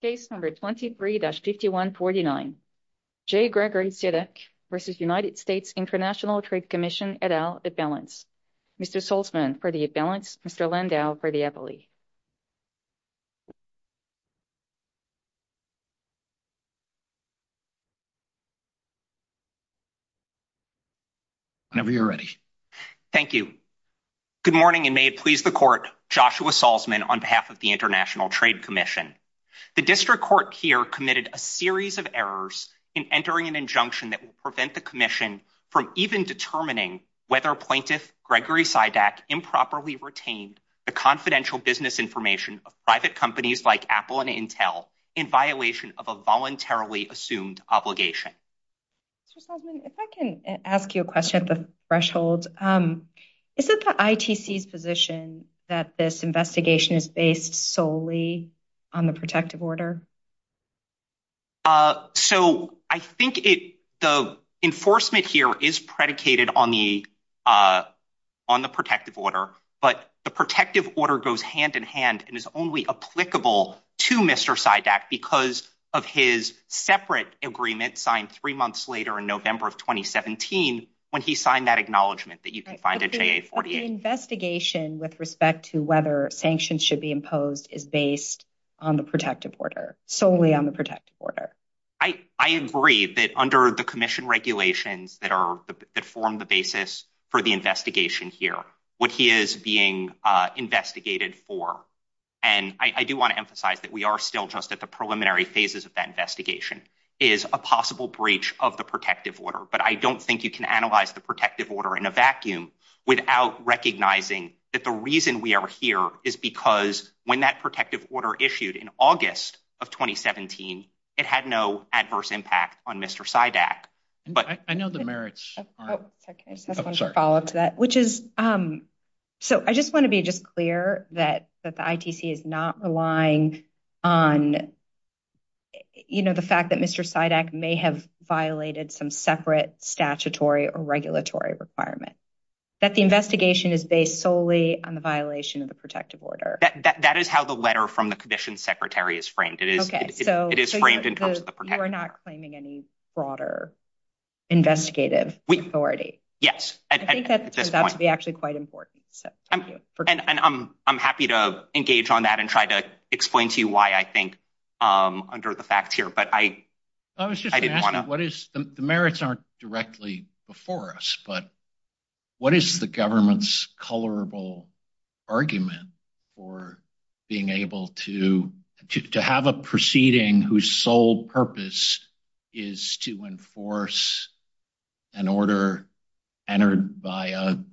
Case number 23-5149, J. Gregory Sidak v. United States International Trade Commission et al., at balance. Mr. Salzman, for the at balance. Mr. Landau, for the appellee. Whenever you're ready. Thank you. Good morning, and may it please the Court, Joshua Salzman, on behalf of the International Trade Commission. The District Court here committed a series of errors in entering an injunction that will prevent the Commission from even determining whether plaintiff Gregory Sidak improperly retained the confidential business information of private companies like Apple and Intel in violation of a voluntarily assumed obligation. Mr. Salzman, if I can ask you a question at this threshold. Is it the ITC's position that this investigation is based solely on the protective order? So, I think the enforcement here is predicated on the protective order, but the protective order goes hand in hand and is only applicable to Mr. Sidak because of his separate agreement signed three months later in November of 2017 when he signed that acknowledgement that you to whether sanctions should be imposed is based on the protective order, solely on the protective order. I agree that under the Commission regulations that form the basis for the investigation here, what he is being investigated for, and I do want to emphasize that we are still just at the preliminary phases of that investigation, is a possible breach of the protective order. But I don't think you can analyze the protective order in a vacuum without recognizing that the reason we are here is because when that protective order issued in August of 2017, it had no adverse impact on Mr. Sidak. I just want to be just clear that the ITC is not relying on the fact that Mr. Sidak may have violated some separate statutory or regulatory requirement. That the investigation is based solely on the violation of the protective order. That is how the letter from the Commission Secretary is framed. It is framed in terms of the protective order. Okay, so you are not claiming any broader investigative authority. Yes. I think that's actually quite important. And I'm happy to engage on that and try to explain to you why I think under the fact here, but I didn't want to. The merits aren't directly before us, but what is the government's colorable argument for being able to have a proceeding whose sole purpose is to enforce an order entered by an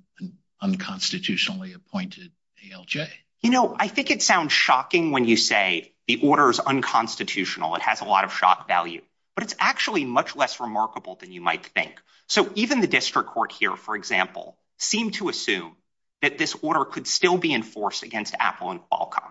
unconstitutionally appointed ALJ? You know, I think it sounds shocking when you say the order is unconstitutional. It has a lot of shock value, but it's actually much less remarkable than you might think. So even the district court here, for example, seemed to assume that this order could still be enforced against Apple and Qualcomm.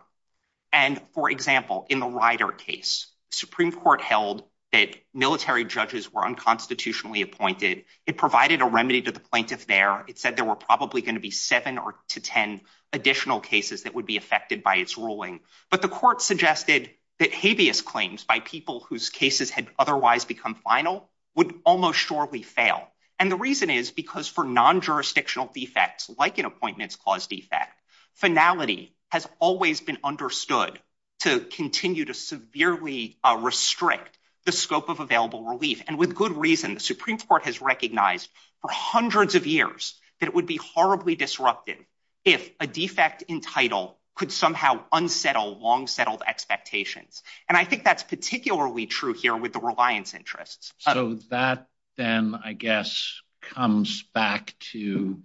And for example, in the Ryder case, Supreme Court held that military judges were unconstitutionally appointed. It provided a remedy to the plaintiff there. It said there were probably going to be seven to 10 additional cases that would be affected by its ruling. But the court suggested that habeas claims by people whose cases had otherwise become final would almost surely fail. And the reason is because for non-jurisdictional defects, like an appointments clause defect, finality has always been understood to continue to severely restrict the scope of available relief. And with good reason, the Supreme Court has recognized for hundreds of years that it be horribly disrupted if a defect in title could somehow unsettle long-settled expectations. And I think that's particularly true here with the reliance interests. So that then, I guess, comes back to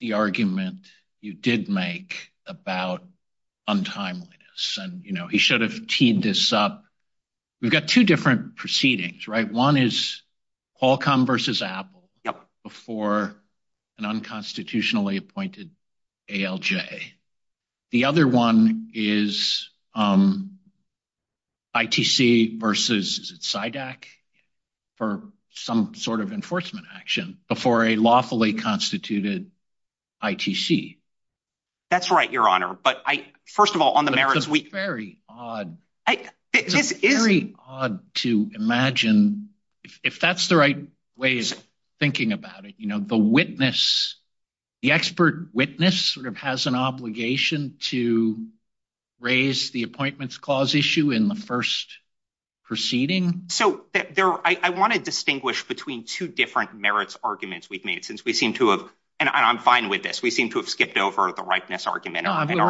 the argument you did make about untimeliness. And, you know, he should have teed this up. We've got two different proceedings, right? One is Qualcomm versus Apple before an unconstitutionally appointed ALJ. The other one is ITC versus CIDAC for some sort of enforcement action before a lawfully constituted ITC. That's right, Your Honor. But I, first of all, on the merits we... It's very odd to imagine, if that's the right way of thinking about it, you know, the witness, the expert witness sort of has an obligation to raise the appointments clause issue in the first proceeding. So I want to distinguish between two different merits arguments we've made since we seem to have, and I'm fine with this, we seem to have skipped over the ripeness argument. We'll come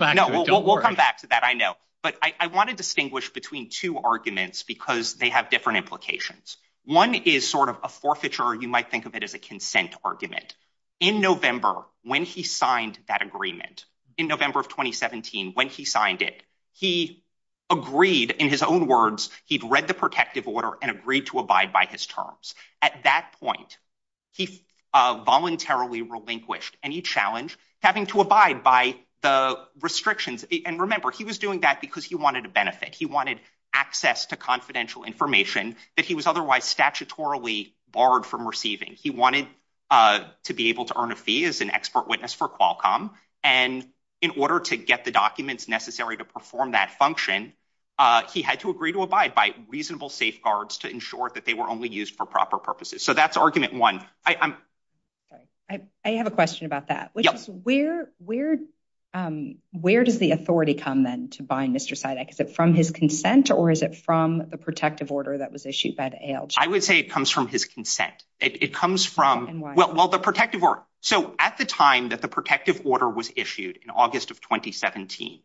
back to that, I know. But I want to distinguish between two arguments because they have different implications. One is sort of a forfeiture, you might think of it as a consent argument. In November, when he signed that agreement, in November of 2017, when he signed it, he agreed, in his own words, he'd read the protective order and agreed to abide by his terms. At that point, he voluntarily relinquished, and he challenged having to abide by the restrictions. And remember, he was doing that because he wanted a benefit. He wanted access to confidential He wanted to be able to earn a fee as an expert witness for Qualcomm. And in order to get the documents necessary to perform that function, he had to agree to abide by reasonable safeguards to ensure that they were only used for proper purposes. So that's argument one. I have a question about that. Where does the authority come then to bind Mr. Sidek? Is it from his consent, or is it from the protective order that was issued by the ALG? I would say it comes from his consent. It comes from, well, the protective order. So at the time that the protective order was issued in August of 2017,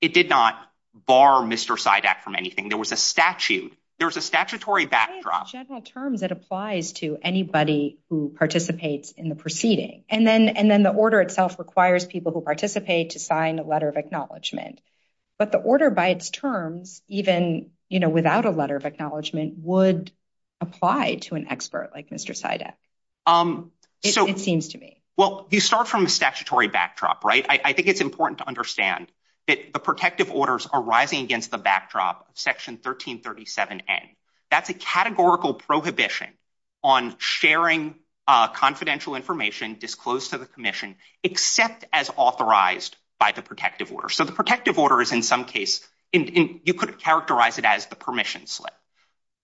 it did not bar Mr. Sidek from anything. There was a statute. There was a statutory backdrop. That's a general term that applies to anybody who participates in the proceeding. And then the order itself requires people who participate to sign a letter of acknowledgement. But the order, by its terms, even without a letter of acknowledgement, would apply to an expert like Mr. Sidek, it seems to me. Well, you start from the statutory backdrop, right? I think it's important to understand that the protective orders are rising against the backdrop of Section 1337N. That's a categorical prohibition on sharing confidential information disclosed to the public. You could characterize it as the permission slip.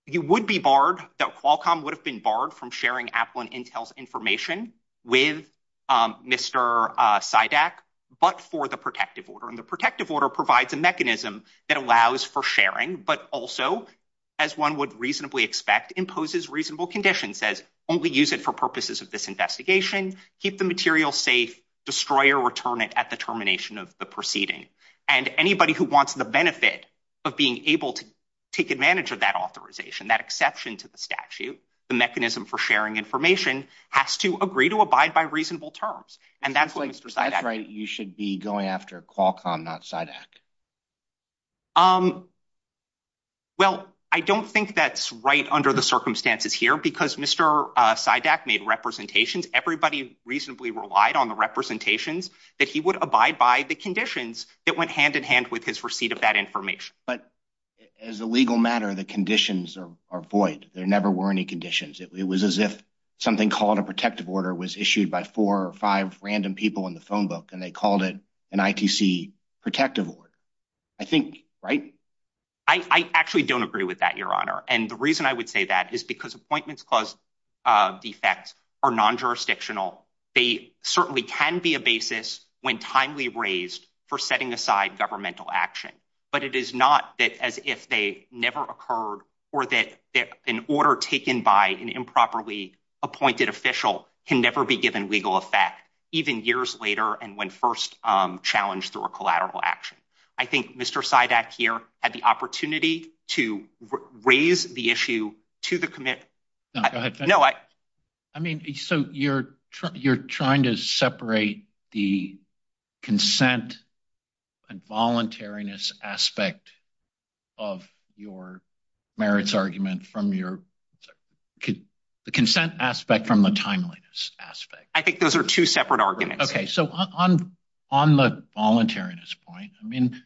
You would be barred, that Qualcomm would have been barred from sharing Applin Intel's information with Mr. Sidek, but for the protective order. And the protective order provides a mechanism that allows for sharing, but also, as one would reasonably expect, imposes reasonable conditions, says only use it for purposes of this investigation, keep the material safe, destroy or return it at termination of the proceeding. And anybody who wants the benefit of being able to take advantage of that authorization, that exception to the statute, the mechanism for sharing information, has to agree to abide by reasonable terms. And that's why you should be going after Qualcomm, not Sidek. Well, I don't think that's right under the circumstances here, because Mr. Sidek made representations. Everybody reasonably relied on the representations that he would abide by the conditions that went hand in hand with his receipt of that information. But as a legal matter, the conditions are void. There never were any conditions. It was as if something called a protective order was issued by four or five random people in the phone book, and they called it an ITC protective order. I think, right? I actually don't agree with that, Your Honor. And the reason I would say that is because appointments of defects are non-jurisdictional. They certainly can be a basis when timely raised for setting aside governmental action. But it is not as if they never occurred or that an order taken by an improperly appointed official can never be given legal effect, even years later and when first challenged through a collateral action. I think Mr. Sidek here had the opportunity to raise the issue to the committee. I mean, so you're trying to separate the consent and voluntariness aspect of your merits argument from the consent aspect from the timeliness aspect. I think those are two separate arguments. Okay. So on the voluntariness point, I mean,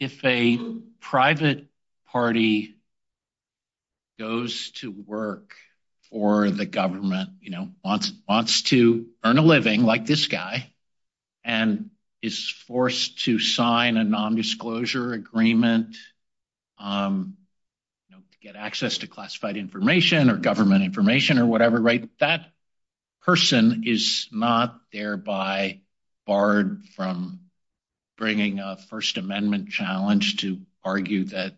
if a private party goes to work for the government, you know, wants to earn a living like this guy and is forced to sign a nondisclosure agreement to get access to classified information or government information or whatever, right? That person is not thereby barred from bringing a first amendment challenge to argue that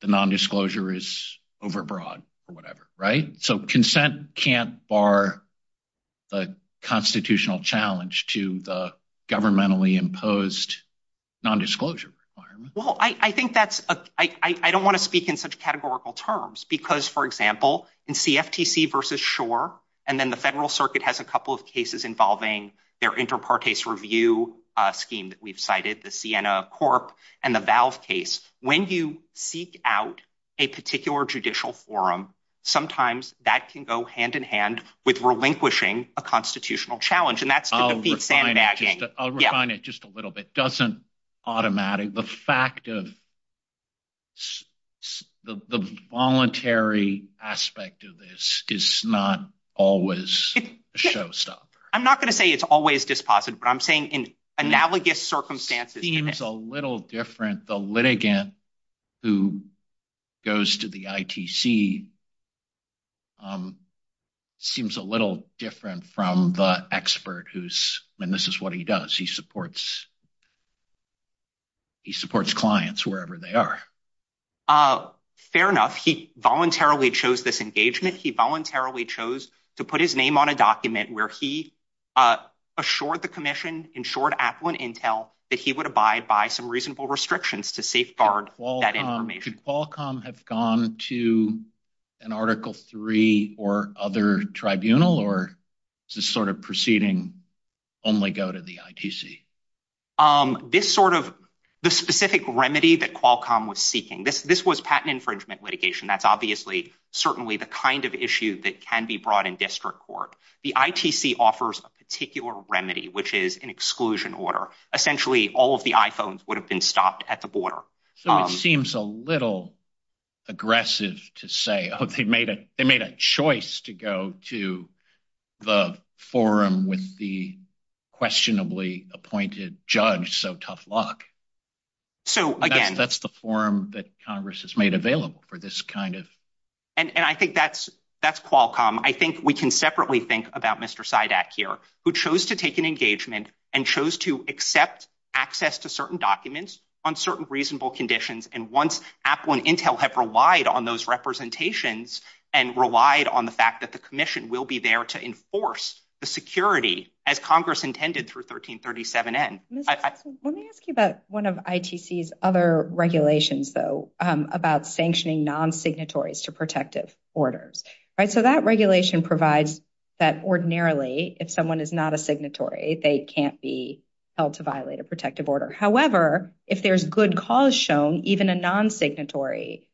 the nondisclosure is overbroad or whatever, right? So consent can't bar the constitutional challenge to the governmentally imposed nondisclosure requirement. Well, I think that's, I don't want to speak in such categorical terms because for example, in CFTC versus Schor, and then the federal circuit has a couple of cases involving their inter partes review scheme that we've cited, the Siena Corp and the Valve case. When you seek out a particular judicial forum, sometimes that can go hand in hand with relinquishing a constitutional challenge. And that's- I'll refine it just a little bit. Doesn't automatically, the fact of the voluntary aspect of this is not always a showstopper. I'm not going to say it's always dispositive, but I'm saying in analogous circumstances- Seems a little different. The litigant who goes to the ITC seems a little different from the expert who's, and this is what he does. He supports clients wherever they are. Fair enough. He voluntarily chose this engagement. He voluntarily chose to put his name on a document where he assured the commission, ensured affluent intel, that he would abide by some reasonable restrictions to safeguard that information. Did Qualcomm have gone to an article three or other tribunal or is this sort of proceeding only go to the ITC? This sort of, the specific remedy that Qualcomm was seeking, this was patent infringement litigation. That's obviously certainly the issue that can be brought in district court. The ITC offers a particular remedy, which is an exclusion order. Essentially, all of the iPhones would have been stopped at the border. So it seems a little aggressive to say, oh, they made a choice to go to the forum with the questionably appointed judge, so tough luck. So again- That's the forum that Congress has made available for this kind of- And I think that's Qualcomm. I think we can separately think about Mr. Sydak here, who chose to take an engagement and chose to accept access to certain documents on certain reasonable conditions. And once affluent intel had relied on those representations and relied on the fact that the commission will be there to enforce the security as Congress intended for 1337N. Let me ask you about one of ITC's other regulations, though, about sanctioning non-signatories to protective orders. So that regulation provides that ordinarily, if someone is not a signatory, they can't be held to violate a protective order. However, if there's good cause shown, even a non-signatory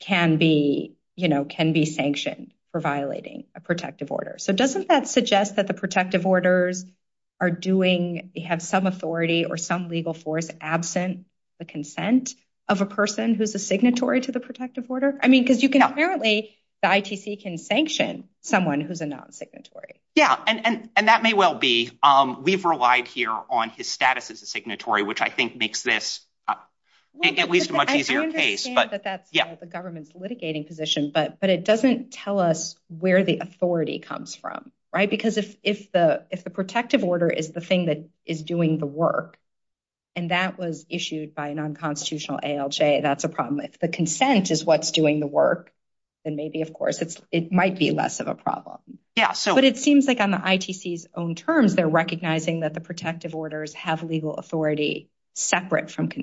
can be sanctioned for violating a protective order. So doesn't that suggest that the protective orders have some authority or some legal force absent the consent of a person who's a signatory to the protective order? I mean, because apparently the ITC can sanction someone who's a non-signatory. Yeah, and that may well be. We've relied here on his status as a signatory, which I think makes this at least a much easier case. I can understand that that's the government's litigating position, but it doesn't tell us where the authority comes from, right? Because if the protective order is the thing that is doing the work, and that was issued by a non-constitutional ALJ, that's a problem. If the consent is what's doing the work, then maybe, of course, it might be less of a problem. But it seems like on the ITC's own terms, they're recognizing that the protective orders have legal authority separate from to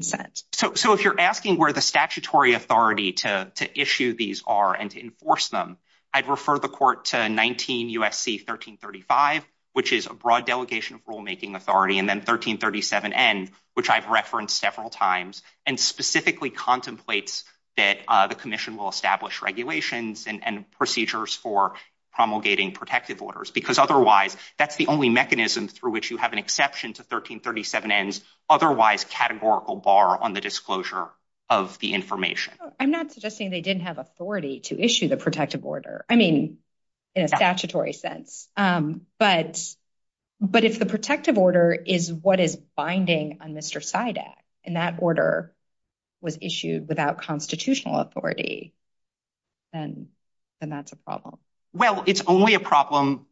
issue these are and to enforce them. I'd refer the court to 19 USC 1335, which is a broad delegation of rulemaking authority, and then 1337N, which I've referenced several times, and specifically contemplates that the commission will establish regulations and procedures for promulgating protective orders. Because otherwise, that's the only mechanism through which you have an exception to 1337N's otherwise categorical bar on the disclosure of the information. I'm not suggesting they didn't have authority to issue the protective order. I mean, in a statutory sense. But if the protective order is what is binding on Mr. Sidek, and that order was issued without constitutional authority, then that's a problem. Well, it's only a problem,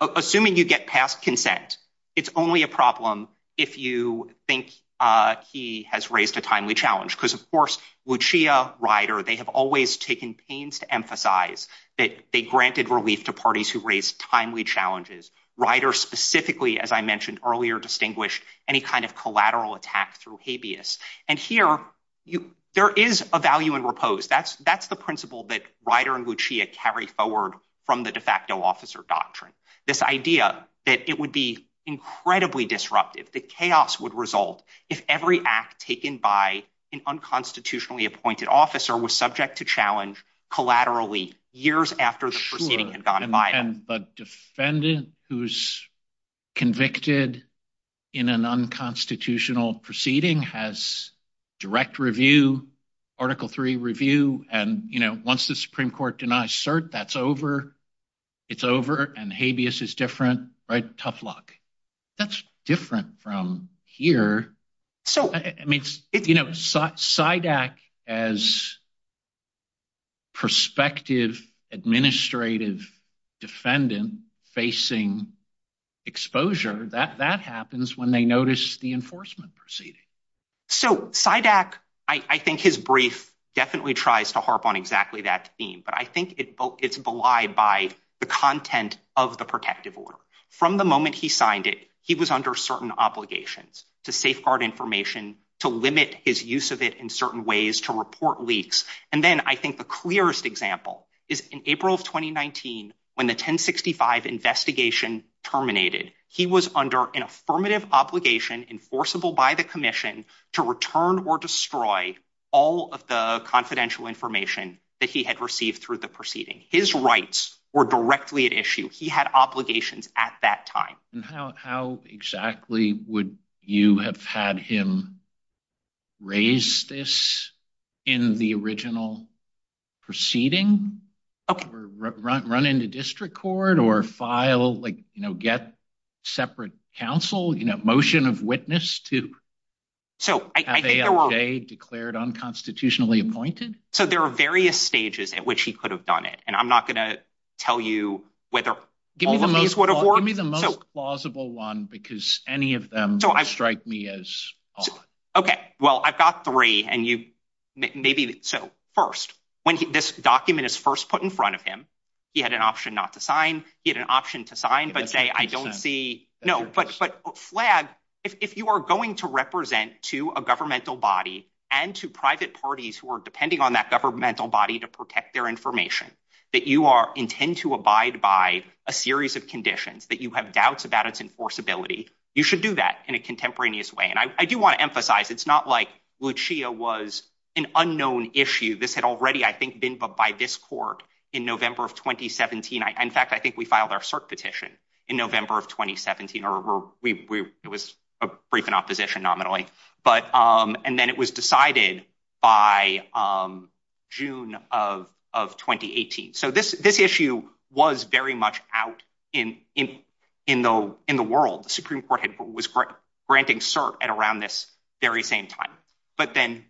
assuming you get past consent, it's only a problem if you think he has a timely challenge. Because of course, Lucia, Ryder, they have always taken pains to emphasize that they granted relief to parties who raised timely challenges. Ryder specifically, as I mentioned earlier, distinguished any kind of collateral attack through habeas. And here, there is a value in repose. That's the principle that Ryder and Lucia carry forward from the de facto officer doctrine. This idea that it would be incredibly disruptive, if the chaos would result, if every act taken by an unconstitutionally appointed officer was subject to challenge, collaterally, years after the proceeding had gone by. But a defendant who's convicted in an unconstitutional proceeding has direct review, Article III review, and once the Supreme Court denies cert, that's over. It's over, and habeas is different, right? Tough luck. That's different from here. I mean, SIDAC as prospective administrative defendant facing exposure, that happens when they notice the enforcement proceeding. So SIDAC, I think his brief definitely tries to harp on exactly that theme, but I think it's belied by the content of the protective order. From the moment he signed it, he was under certain obligations to safeguard information, to limit his use of it in certain ways, to report leaks. And then I think the clearest example is in April of 2019, when the 1065 investigation terminated, he was under an affirmative obligation enforceable by the commission to return or destroy all of the confidential information that he had received through the proceeding. His rights were directly at issue. He had obligations at that time. And how exactly would you have had him raise this in the original proceeding, or run into district court, or file, like, you know, get separate counsel, you know, motion of witness to have AFJ declared unconstitutionally appointed? So there are various stages at which he could have done it, and I'm not going to tell you whether give me the most plausible one, because any of them strike me as off. Okay, well, I've got three, and you, maybe, so first, when this document is first put in front of him, he had an option not to sign, he had an option to sign, but say, I don't see, no, but Flav, if you are going to represent to a governmental body and to private parties who are depending on that governmental body to protect their information, that you are intend to abide by a series of conditions, that you have doubts about its enforceability, you should do that in a contemporaneous way. And I do want to emphasize, it's not like Lucia was an unknown issue. This had already, I think, been put by this court in November of 2017. In fact, I think we filed our cert petition in November of 2017, or it was a brief in opposition nominally, and then it was decided by June of 2018. So this issue was very much out in the world. The Supreme Court was granting cert at around this very same time. But then,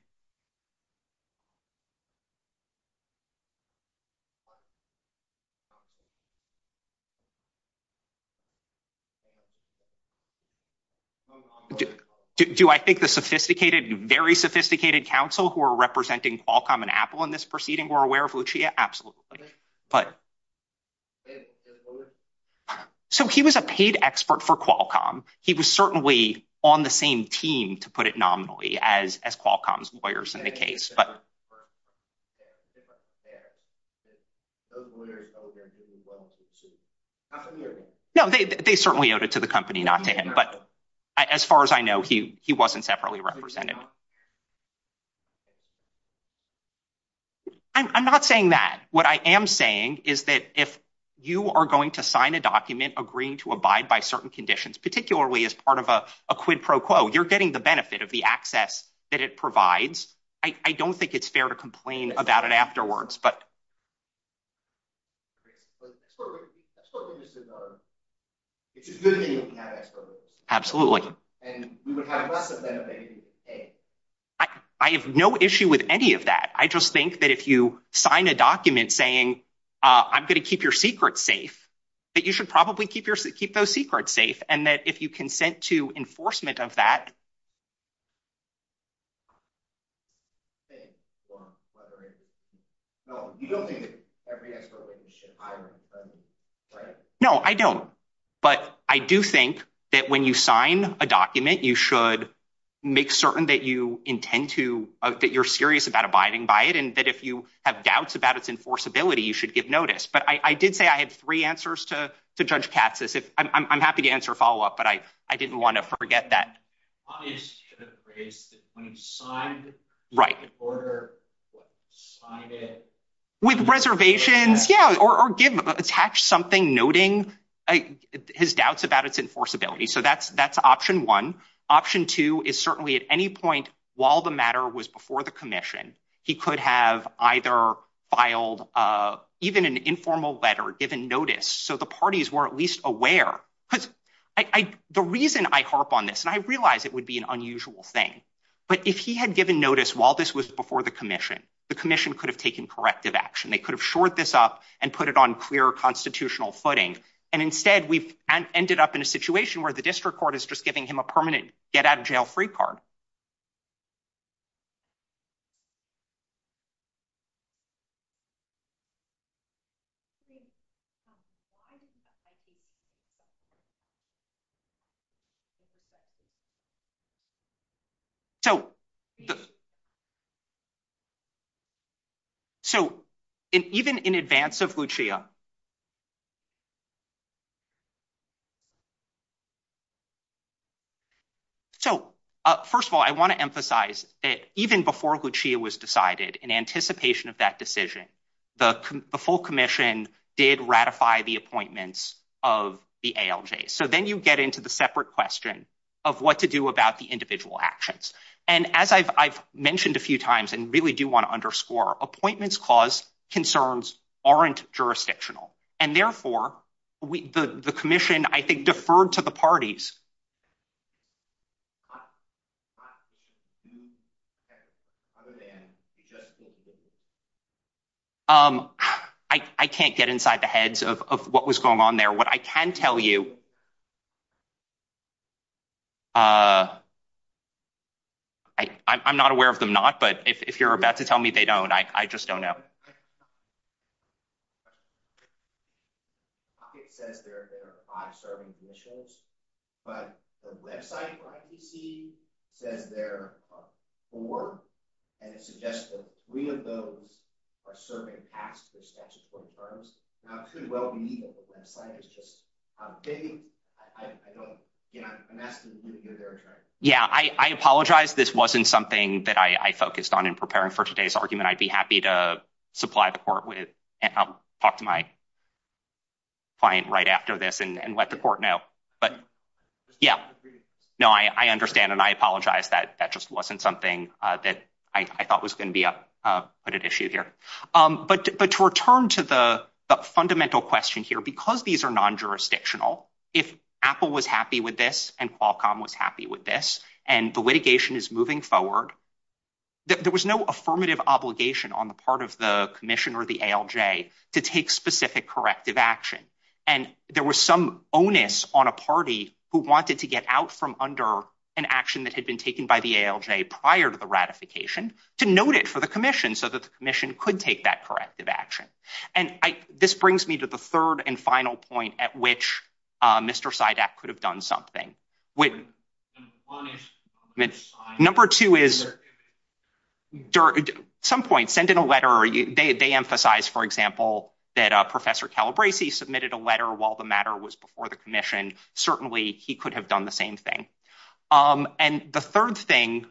do I think the sophisticated, very sophisticated counsel who are representing Qualcomm and Apple in this proceeding were aware of Lucia? Absolutely. But, so he was a paid expert for Qualcomm. He was certainly on the same team, to put it nominally, as Qualcomm's lawyers in the case. No, they certainly owed it to the company, not to him. But as far as I know, he wasn't separately represented. No. I'm not saying that. What I am saying is that if you are going to sign a document agreeing to abide by certain conditions, particularly as part of a quid pro quo, you're getting the benefit of the access that it provides. I don't think it's fair to complain about it afterwards. I have no issue with any of that. I just think that if you sign a document saying, I'm going to keep your secrets safe, that you should probably keep those secrets safe. And that if you consent to enforcement of that, whether it's... No, you don't think that every expert should abide by it, right? No, I don't. But I do think that when you sign a document, you should make certain that you intend to, that you're serious about abiding by it, and that if you have doubts about its enforceability, you should give notice. But I did say I had three answers to Judge Katz. I'm happy to answer a follow-up, but I didn't want to forget that. Obviously, you should have raised it when you signed it, in order to sign it. With reservations, yeah. Or attach something noting his doubts about its enforceability. So that's option one. Option two is certainly at any point while the matter was before the commission, he could have either filed even an informal letter, given notice, so the parties were at least aware. Because the reason I harp on this, and I realize it would be an unusual thing, but if he had given notice while this was before the commission, the commission could have taken corrective action. They could have shored this up and put it on clear constitutional footing. And instead, we've ended up in a situation where the district court is just giving him a permanent get-out-of-jail-free card. So, even in advance of Lucia... So, first of all, I want to emphasize that even before Lucia was decided, in anticipation of that decision, the full commission did ratify the appointments of the ALJs. So then you get into the separate question of what to do about the individual actions. And as I've mentioned a few times, and really do want to underscore, appointments cause concerns aren't jurisdictional. And therefore, the commission, I think, deferred to the parties. I can't get inside the heads of what was going on there. What I can tell you... I'm not aware of them not, but if you're about to tell me they don't, I just don't know. Okay. Yeah, I apologize. This wasn't something that I focused on in preparing for today's argument. I'd be happy to supply the court with... I'll talk to my client right after this and let the court know. But yeah, no, I understand. And I apologize. That just wasn't something that I thought was going to be a good issue here. But to return to the fundamental question here, because these are non-jurisdictional, if Apple was happy with this, and Qualcomm was happy with this, and the litigation is moving forward, there was no affirmative obligation on the part of the commission or the ALJ to take specific corrective action. And there was some onus on a party who wanted to get out from under an action that had been taken by the ALJ prior to the ratification to note it for the commission, so that the commission could take that corrective action. And this brings me to the third and final point at which Mr. Sidak could have done something. Number two is, at some point, send in a letter. They emphasize, for example, that Professor Calabresi submitted a letter while the matter was before the commission. Certainly he could have done the same thing. And the third thing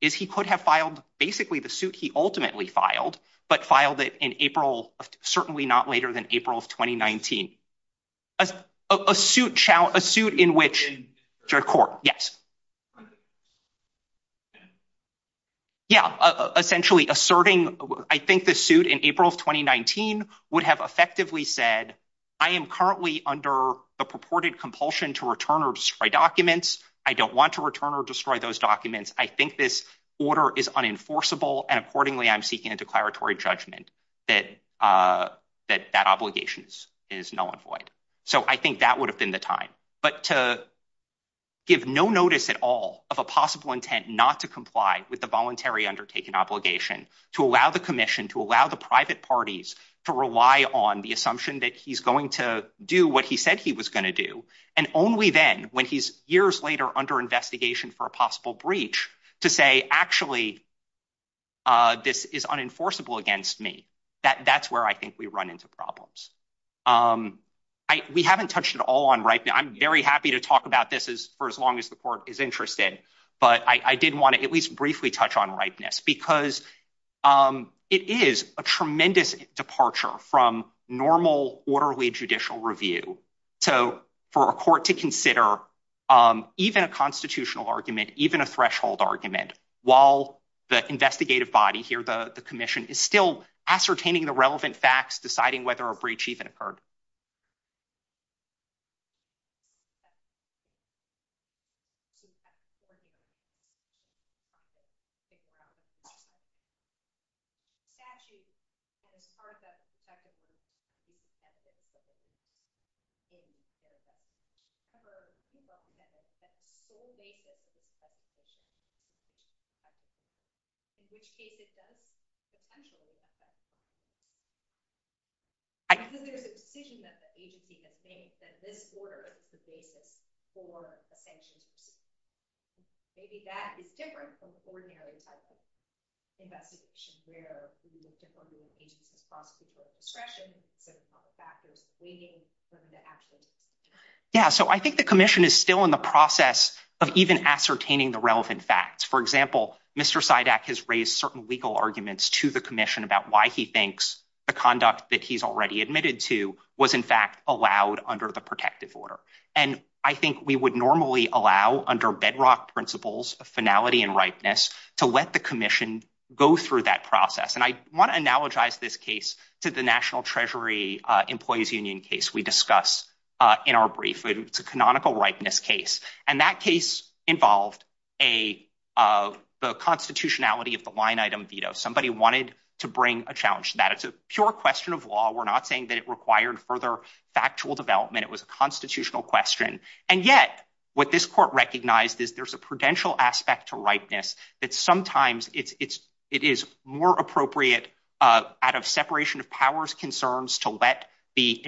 is he could have filed basically the suit he ultimately filed, but filed it in April, certainly not later than April of 2019. Yeah, essentially asserting, I think the suit in April of 2019 would have effectively said, I am currently under the purported compulsion to return or destroy documents. I don't want to return or destroy those documents. I think this order is unenforceable. And accordingly, I'm seeking a declaratory judgment that that obligation is null and void. So I think that would have been the time. But to give no notice at all of a possible intent not to comply with the voluntary undertaken obligation, to allow the commission, to allow the private parties to rely on the assumption that he's going to do what he said he was going to do. And only then, when he's years later under investigation for a possible breach, to say, actually, this is unenforceable against me. That's where I think we run into problems. Um, I we haven't touched at all on right now. I'm very happy to talk about this is for as long as the court is interested. But I did want to at least briefly touch on rightness because it is a tremendous departure from normal orderly judicial review. So for a court to consider, even a constitutional argument, even a threshold argument, while the investigative body here, the commission is still ascertaining the relevant facts, deciding whether a breach even occurred. I Yeah, so I think the commission is still in the process of even ascertaining the relevant facts. For example, Mr. CIDAC has raised certain legal arguments to the commission about why he thinks the conduct that he's already admitted to was, in fact, allowed under the protective order. And I think we would normally allow under bedrock principles of finality and ripeness to let the commission go through that process. And I want to analogize this case to the National Treasury Employees Union case we discussed in our brief. It's a canonical ripeness case. And that case involved the constitutionality of the line item veto. Somebody wanted to bring a challenge to that. It's a pure question of law. We're not saying that it required further factual development. It was a constitutional question. And yet what this court recognized is there's a prudential aspect to ripeness that sometimes it is more appropriate out of separation of powers concerns to let the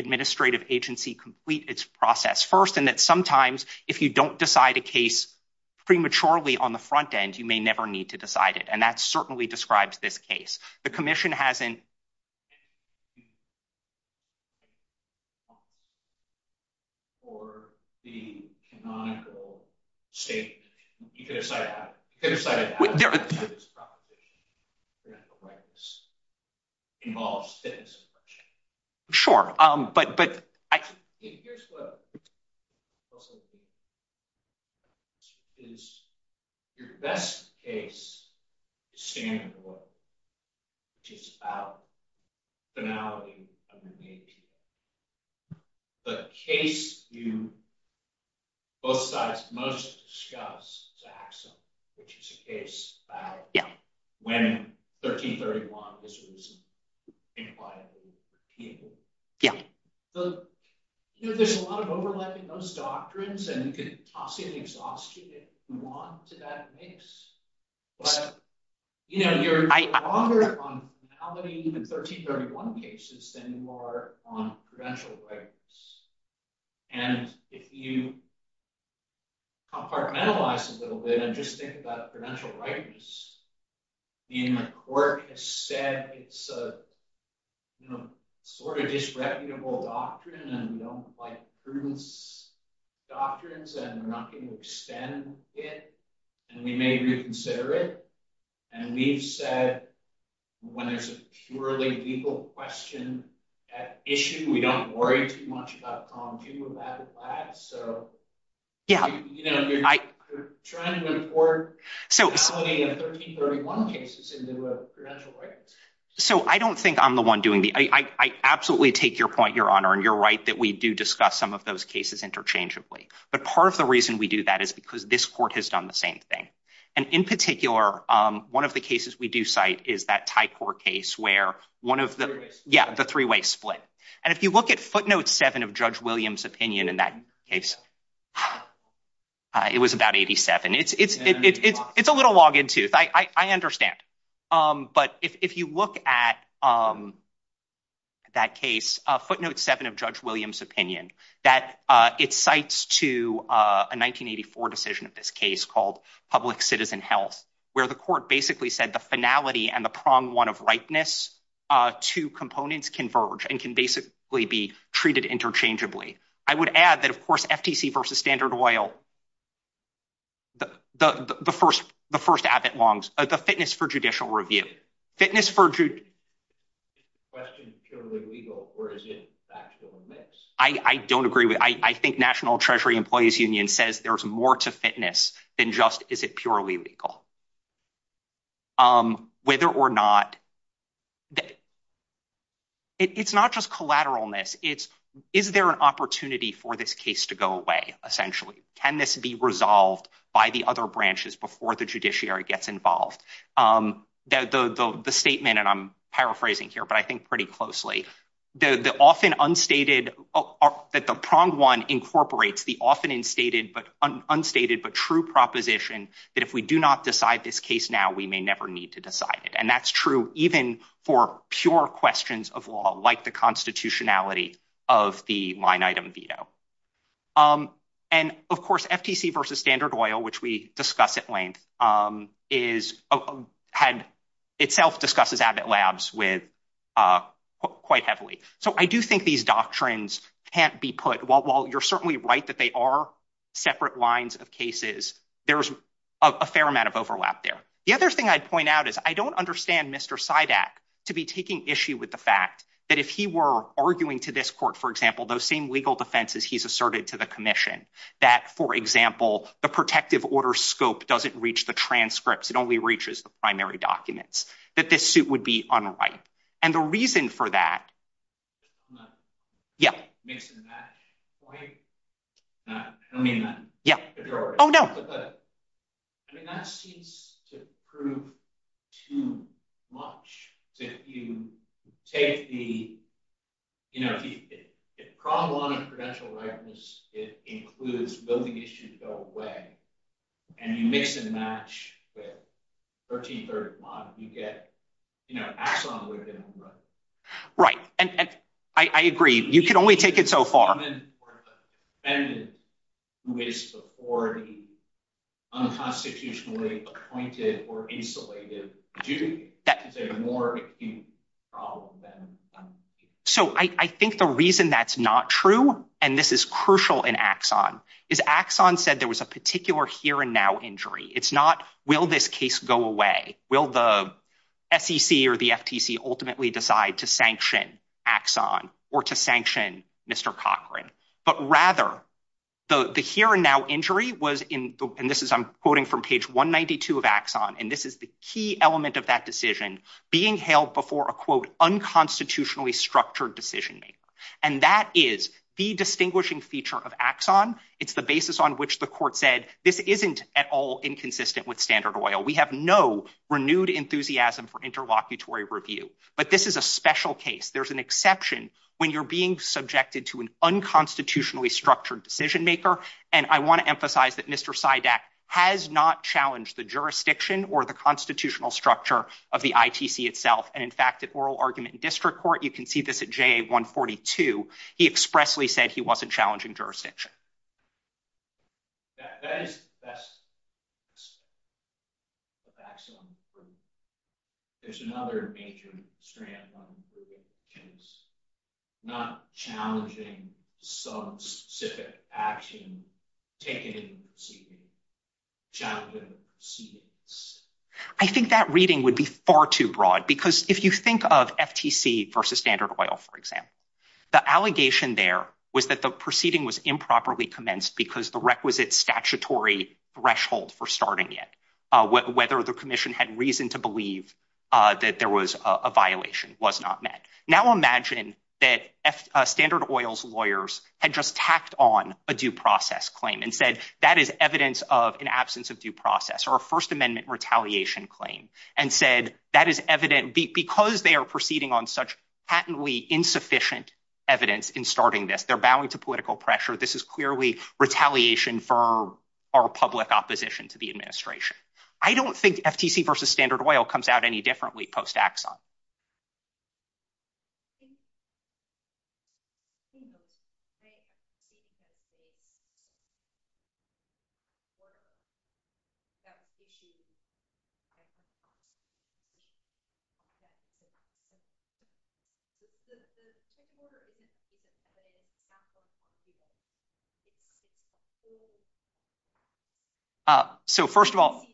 prematurely on the front end. You may never need to decide it. And that certainly describes this case. The commission hasn't raised. Sure. But here's what I'll say. Is your best case standard of law, which is about finality. The case you most discussed is Axum, which is a case about when 1331 was recent. There's a lot of overlap in those doctrines, and you could possibly exhaust you if you want to that 1331 cases than you are on prudential rights. And if you compartmentalize a little bit and just think about prudential rights, meaning the court has said it's a sort of disreputable doctrine and we don't like prudence doctrines and we're not going to extend it and we may reconsider it. And we've said when there's a purely legal question at issue, we don't worry too much about So I don't think I'm the one doing the, I absolutely take your point, your honor. And you're right that we do discuss some of those cases interchangeably. But part of the reason we do that is because this court has done the same thing. And in particular, one of the cases we do cite is that Thai court case where one of the, yeah, the three-way split. And if you look at footnote seven of Judge Williams' opinion in that case, it was about 87. It's a little log in tooth. I understand. But if you look at that case, footnote seven of Judge Williams' opinion, that it cites to a 1984 decision of this case called public citizen health, where the court basically said the finality and the prong one of rightness, two components converge and can basically be treated interchangeably. I would add that of course, FTC versus Standard Oil, the first Abbott Long's, the fitness for judicial review, fitness for question. I don't agree with, I think national treasury employees union says there's more to fitness than just, is it purely legal? Whether or not that it's not just collateral on this. It's, is there an opportunity for this case to go away? Essentially, can this be resolved by the other gets involved. The statement, and I'm paraphrasing here, but I think pretty closely, the often unstated that the prong one incorporates the often unstated, but true proposition that if we do not decide this case now, we may never need to decide it. And that's true even for pure questions of law, like the constitutionality of the line item veto. And of course, FTC versus Standard Oil, which we discussed at length is had itself discussed as Abbott Labs with quite heavily. So I do think these doctrines can't be put while you're certainly right, that they are separate lines of cases. There's a fair amount of overlap there. The other thing I'd point out is I don't understand Mr. Sydak to be taking issue with the fact that if he were arguing to this court, for example, those same legal defenses, he's protective order scope doesn't reach the transcripts. It only reaches the primary documents that this suit would be on the right. And the reason for that, yeah. Yeah. Oh, no. I mean, that seems to prove too much. So if you take the, you know, the problem on the prudential rightness, it includes building issues go away, and you mix and match with 1330 model, you get, you know, axon within. Right. And I agree. You should only take it so far. And who is the unconstitutionally appointed or insulated? So I think the reason that's not true, and this is crucial in axon is axon said there was a particular here and now injury. It's not, will this case go away? Will the FCC or the FTC ultimately decide to sanction axon or to sanction Mr. Cochran? But rather, the here and now injury was in, and this is I'm quoting from page 192 of axon. And this is the key element of that decision being held before a quote, unconstitutionally structured decision maker. And that is the distinguishing feature of axon. It's the basis on which the court said, this isn't at all inconsistent with standard oil. We have no renewed enthusiasm for review, but this is a special case. There's an exception when you're being subjected to an unconstitutionally structured decision maker. And I want to emphasize that Mr. SIDAC has not challenged the jurisdiction or the constitutional structure of the ITC itself. And in fact, at oral argument district court, you can see this at JA 142, he expressly said he wasn't challenging jurisdiction. I think that reading would be far too broad because if you think of improperly commenced because the requisite statutory threshold for starting it, whether the commission had reason to believe that there was a violation was not met. Now imagine that standard oils lawyers had just tacked on a due process claim and said that is evidence of an absence of due process or a first amendment retaliation claim and said that is evident because they are proceeding on such patently insufficient evidence in starting this, they're bowing to political pressure. This is clearly retaliation for our public opposition to the administration. I don't think FTC versus standard oil comes out any differently post-Axon. So first of all,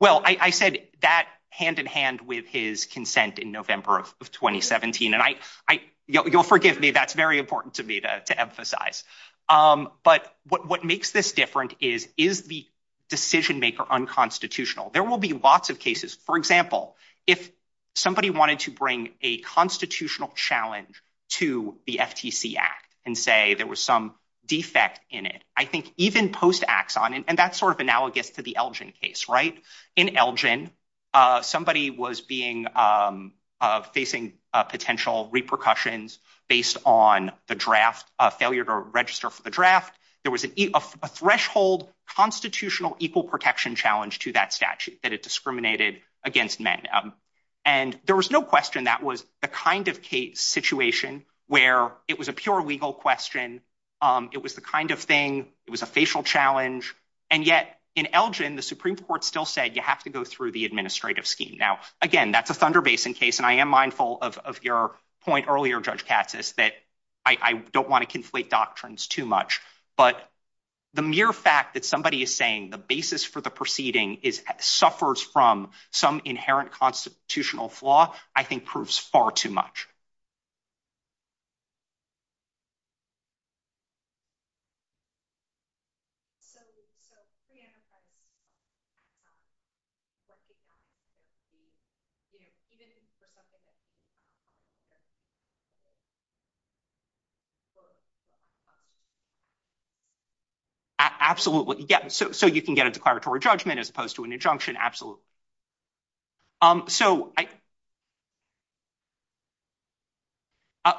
well, I said that hand in hand with his consent in November of 2017. And you'll forgive me, that's very important to me to emphasize. But what makes this different is, is the decision maker unconstitutional? There will be lots of cases. For example, if somebody wanted to bring a constitutional challenge to the FTC Act and say there was some defect in it, I think even post-Axon, and that's sort of analogous to the Elgin case, right? In Elgin, somebody was facing potential repercussions based on the draft, a failure to register for the draft. There was a threshold constitutional equal protection challenge to that and there was no question that was the kind of case situation where it was a pure legal question, it was the kind of thing, it was a facial challenge. And yet in Elgin, the Supreme Court still said you have to go through the administrative scheme. Now, again, that's a Thunder Basin case, and I am mindful of your point earlier, Judge Katsas, that I don't want to conflate doctrines too much. But the mere fact that somebody is saying the basis for the proceeding suffers from some inherent constitutional flaw, I think proves far too much. Absolutely, yeah, so you can get a declaratory judgment as opposed to an injunction, absolutely.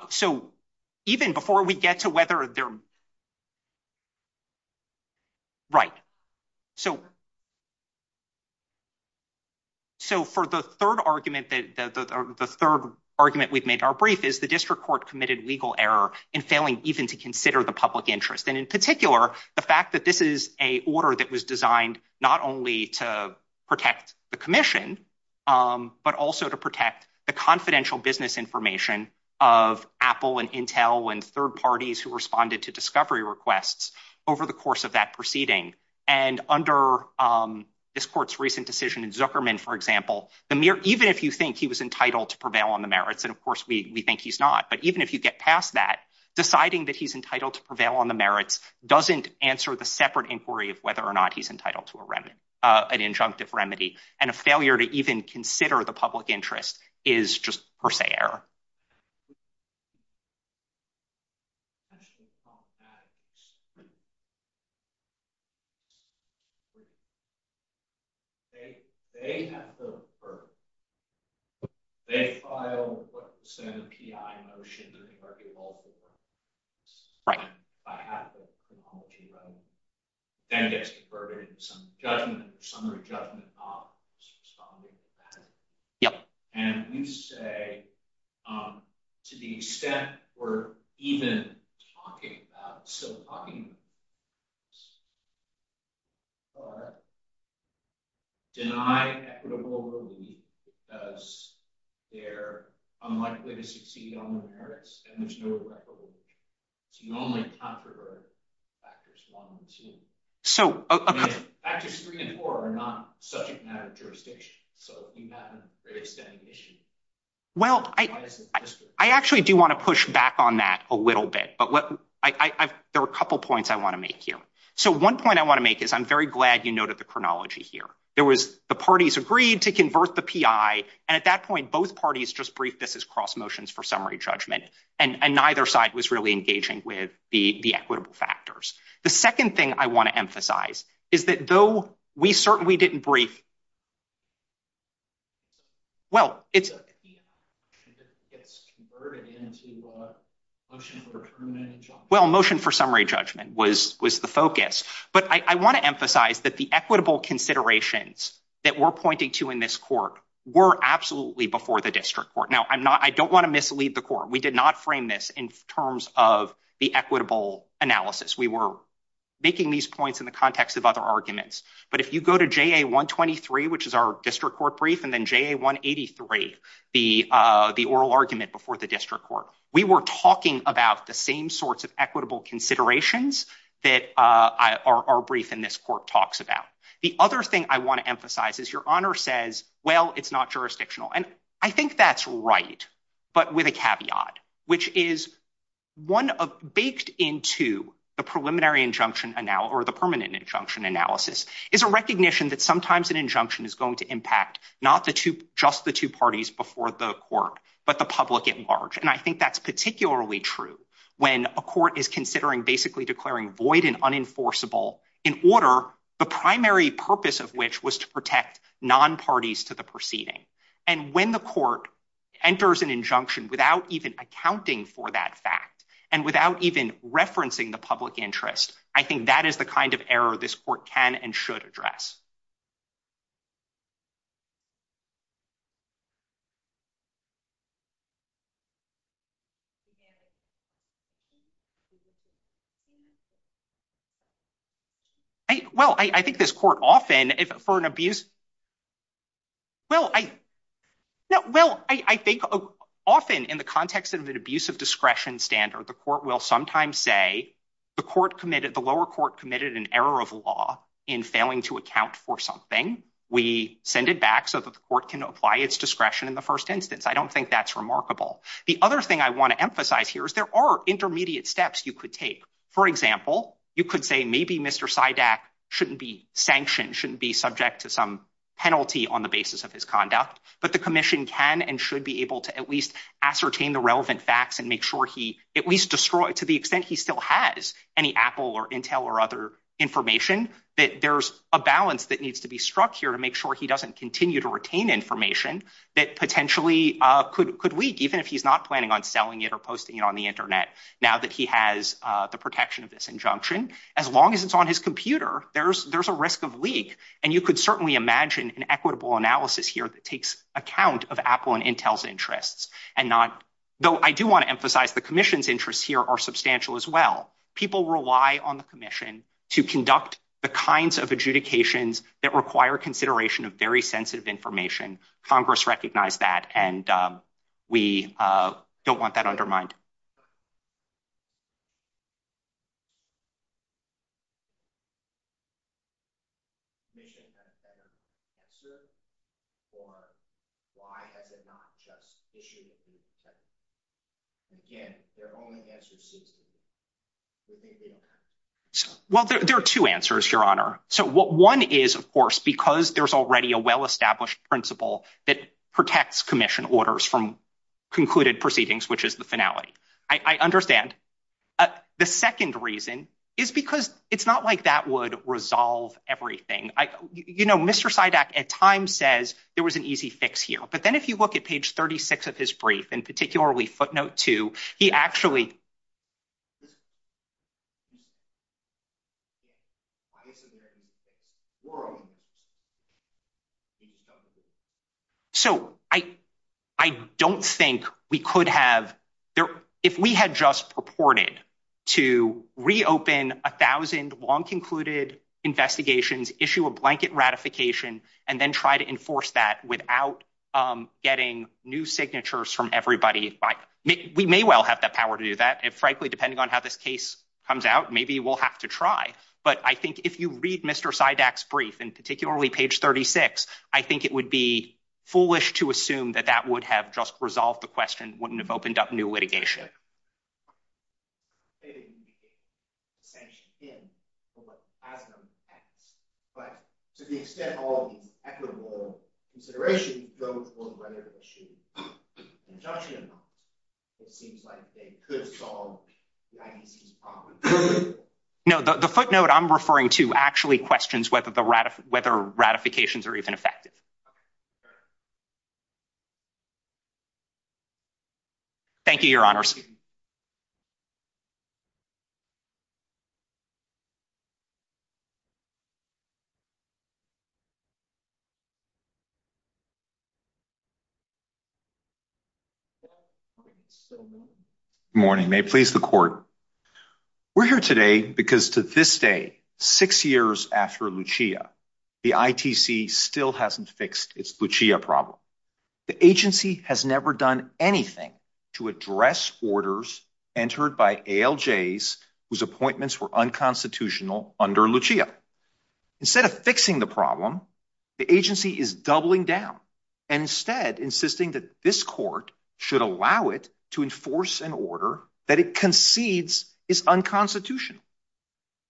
So even before we get to whether they're... Right, so for the third argument, the third argument we've made in our brief is the district court committed legal error in failing even to consider the public interest. And in particular, the fact that this is a order that was designed not only to protect the commission, but also to protect the confidential business information of Apple and Intel and third parties who responded to discovery requests over the course of that proceeding. And under this court's recent decision in Zuckerman, for example, even if you think he was entitled to prevail on the merits, and of course we think he's not, but even if you get past that, deciding that he's entitled to prevail on the merits doesn't answer the separate inquiry of whether or not he's entitled to an injunctive remedy. And a failure to even consider the public interest is just per se error. To the extent we're even talking about civil property, but denying equitable relief because they're unlikely to succeed on the merits and there's no record of which. It's the only controversial factors one and two. Factors three and four are subject matter jurisdictions. So you have a pretty steady mission. Well, I actually do want to push back on that a little bit, but there are a couple points I want to make here. So one point I want to make is I'm very glad you noted the chronology here. There was the parties agreed to converse the PI. And at that point, both parties just briefed this as cross motions for summary judgment. And neither side was really engaging with the equitable factors. The second thing I want to emphasize is that though we certainly didn't brief. Well, it's converted into motion for summary judgment was the focus. But I want to emphasize that the equitable considerations that we're pointing to in this court were absolutely before the district court. Now, I don't want to mislead the court. We did not frame this in terms of the equitable analysis. We were making these points in the context of other arguments. But if you go to JA 123, which is our district court brief, and then JA 183, the oral argument before the district court, we were talking about the same sorts of equitable considerations that our brief in this court talks about. The other thing I want to emphasize is your honor says, well, it's not jurisdictional. And I think that's right, but with a caveat, which is one of baked into the preliminary injunction or the permanent injunction analysis is a recognition that sometimes an injunction is going to impact not just the two parties before the court, but the public at large. And I think that's particularly true when a court is considering basically declaring void and unenforceable in order, the primary purpose of which was to protect non-parties to the proceeding. And when the court enters an injunction without even accounting for that fact, and without even referencing the public interest, I think that is the kind of error this court can and should address. Well, I think this court often for an abuse of discretion standard, the court will sometimes say the lower court committed an error of law in failing to account for something. We send it back so that the court can apply its discretion in the first instance. I don't think that's remarkable. The other thing I want to emphasize here is there are intermediate steps you could take. For example, you could say maybe Mr. Sydak shouldn't be sanctioned, shouldn't be subject to some kind of disciplinary action. And I think on the basis of his conduct, but the commission can and should be able to at least ascertain the relevant facts and make sure he at least destroyed to the extent he still has any Apple or Intel or other information that there's a balance that needs to be struck here to make sure he doesn't continue to retain information that potentially could leak even if he's not planning on selling it or posting it on the internet. Now that he has the protection of this injunction, as long as it's on his computer, there's a risk of leak. And you could certainly imagine an equitable analysis here that takes account of Apple and Intel's interests. Though I do want to emphasize the commission's interests here are substantial as well. People rely on the commission to conduct the kinds of adjudications that require consideration of very sensitive information. Congress recognized that and we don't want that undermined. Well, there are two answers, Your Honor. So what one is, of course, because there's already a well established principle that protects commission orders from concluded proceedings, which is the it's not like that would resolve everything. You know, Mr. Sidak at times says there was an easy fix here. But then if you look at page 36 of this brief, and particularly footnote two, he actually says, I don't think we could have, if we had just purported to reopen a thousand long concluded investigations, issue a blanket ratification, and then try to enforce that without getting new signatures from everybody. We may well have that power to do that. And frankly, depending on how this case comes out, maybe we'll have to try. But I think if you read Mr. Sidak's brief and particularly page 36, I think it would be foolish to assume that that would have just resolved the question, wouldn't have opened up new litigation. But to the extent of all equitable consideration, it seems like they could have solved. No, the footnote I'm referring to actually questions whether ratifications are even affected. Thank you, Your Honors. Good morning. May it please the Court. We're here today because to this day, six years after Lucia, the ITC still hasn't fixed its Lucia problem. The agency has never done anything to address orders entered by ALJs whose appointments were unconstitutional under Lucia. Instead of fixing the problem, the agency is doubling down and instead insisting that this court should allow it to enforce an order that it concedes is unconstitutional.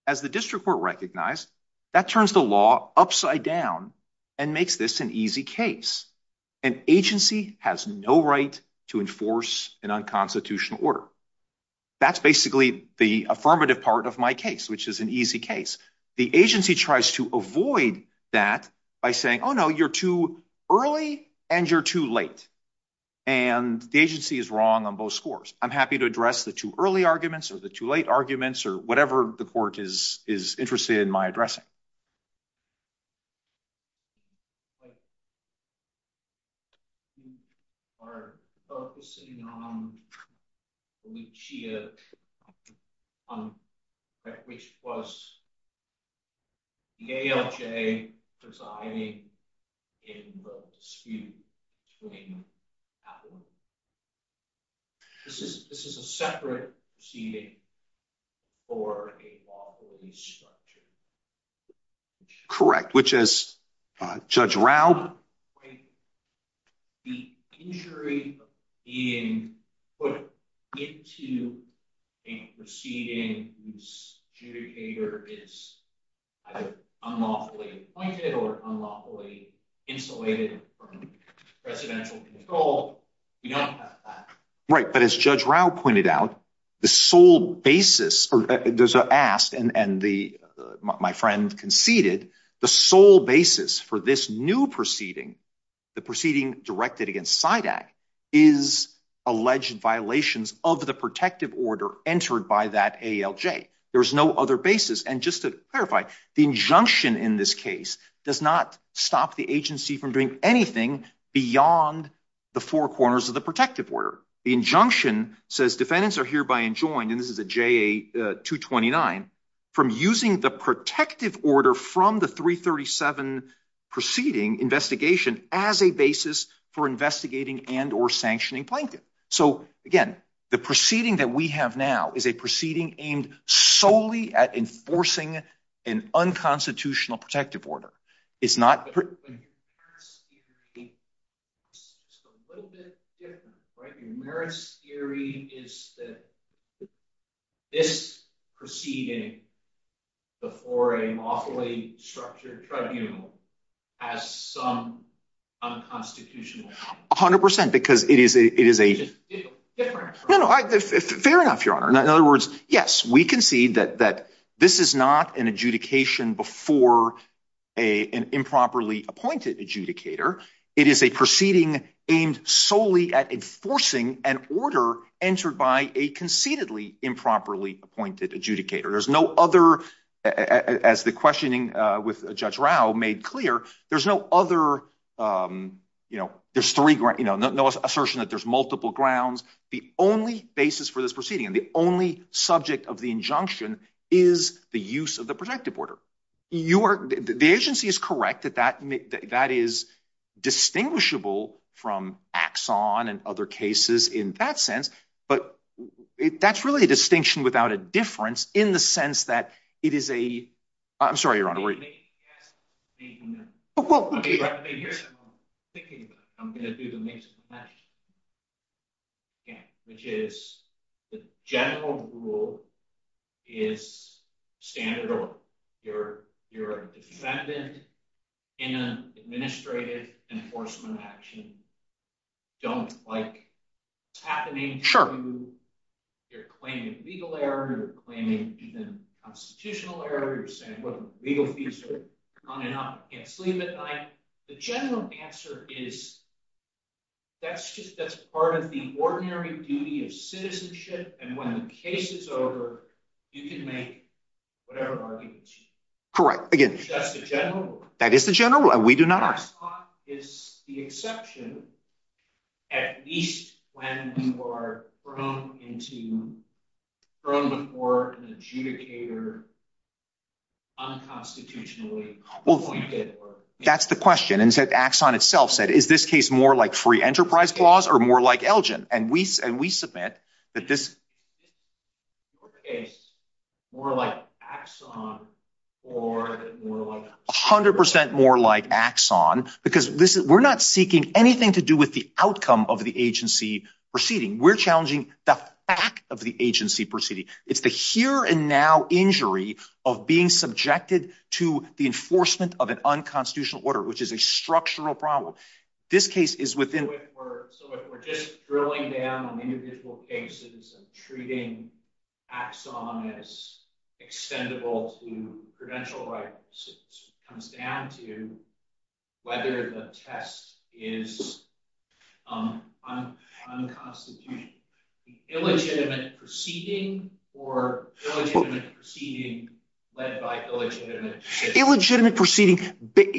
As the district court recognized, that turns the law upside down and makes this an easy case. An agency has no right to enforce an unconstitutional order. That's basically the affirmative part of my case, which is an easy case. The agency tries to avoid that by saying, oh no, you're too early and you're too late. And the agency is wrong on both scores. I'm happy to address the too early arguments or the too late arguments or whatever the court is interested in my addressing. We are focusing on Lucia, which was the ALJ presiding in the dispute between Appleman. This is a separate proceeding for a lawful restructure. Correct. Which is, Judge Rao? The injury of being put into a proceeding whose adjudicator is either unlawfully appointed or unlawfully insulated from residential control. Right. But as Judge Rao pointed out, the sole basis, and my friend conceded, the sole basis for this new proceeding, the proceeding directed against SIDAC, is alleged violations of the protective order entered by that stop the agency from doing anything beyond the four corners of the protective order. The injunction says defendants are hereby enjoined, and this is a JA 229, from using the protective order from the 337 proceeding investigation as a basis for investigating and or sanctioning Plankton. So again, the proceeding that we have now is a proceeding aimed solely at enforcing an unconstitutional protective order. It's not- But your merits theory is a little bit different, right? Your merits theory is that this proceeding before a lawfully structured tribunal has some unconstitutional- A hundred percent, because it is a- It's a different- Fair enough, your honor. In other words, yes, we concede that this is not an adjudication before an improperly appointed adjudicator. It is a proceeding aimed solely at enforcing an order entered by a conceitedly improperly appointed adjudicator. There's no other, as the questioning with Judge Rao made clear, there's no other, there's three grounds, no assertion that there's multiple grounds. The only basis for this proceeding, the only subject of the injunction is the use of the protective order. The agency is correct that is distinguishable from Axon and other cases in that sense, but that's really a distinction without a difference in the sense that it is a- I'm sorry, your honor, where are you? Thinking about it. I'm going to do the mix and match, which is the general rule is standard order. You're a defendant in an administrative enforcement action. Don't like what's happening to you. You're claiming legal error, you're legal future, on and off, can't sleep at night. The general answer is that's just, that's part of the ordinary duty of citizenship, and when the case is over, you can make whatever argument you want. Correct. Again, that's the general rule. That is the general rule and we do not ask. It's the exception at least when you are thrown into, thrown before an adjudicator unconstitutionally. Well, that's the question, and Axon itself said, is this case more like free enterprise clause or more like Elgin? And we submit that this is more like Axon or more like- 100% more like Axon because we're not seeking anything to do with the outcome of the agency proceeding. We're challenging the fact of the agency proceeding. It's the here and now injury of being subjected to the enforcement of an unconstitutional order, which is a structural problem. This case is within- We're just drilling down on individual cases and treating Axon as unconstitutional. Illegitimate proceeding or illegitimate proceeding led by illegitimate- Illegitimate proceeding,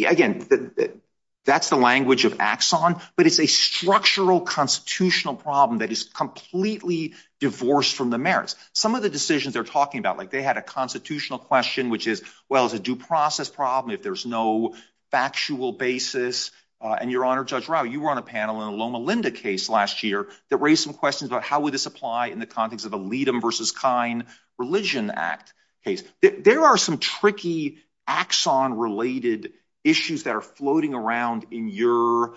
again, that's the language of Axon, but it's a structural constitutional problem that is completely divorced from the merits. Some of the decisions they're talking about, like they had a constitutional question, which is, well, it's a due process problem if there's no factual basis, and your honor, Judge Rao, you were on a panel in a Loma Linda case last year that raised some questions about how would this apply in the context of a Leedem versus Kine religion act case. There are some tricky Axon-related issues that are floating around in your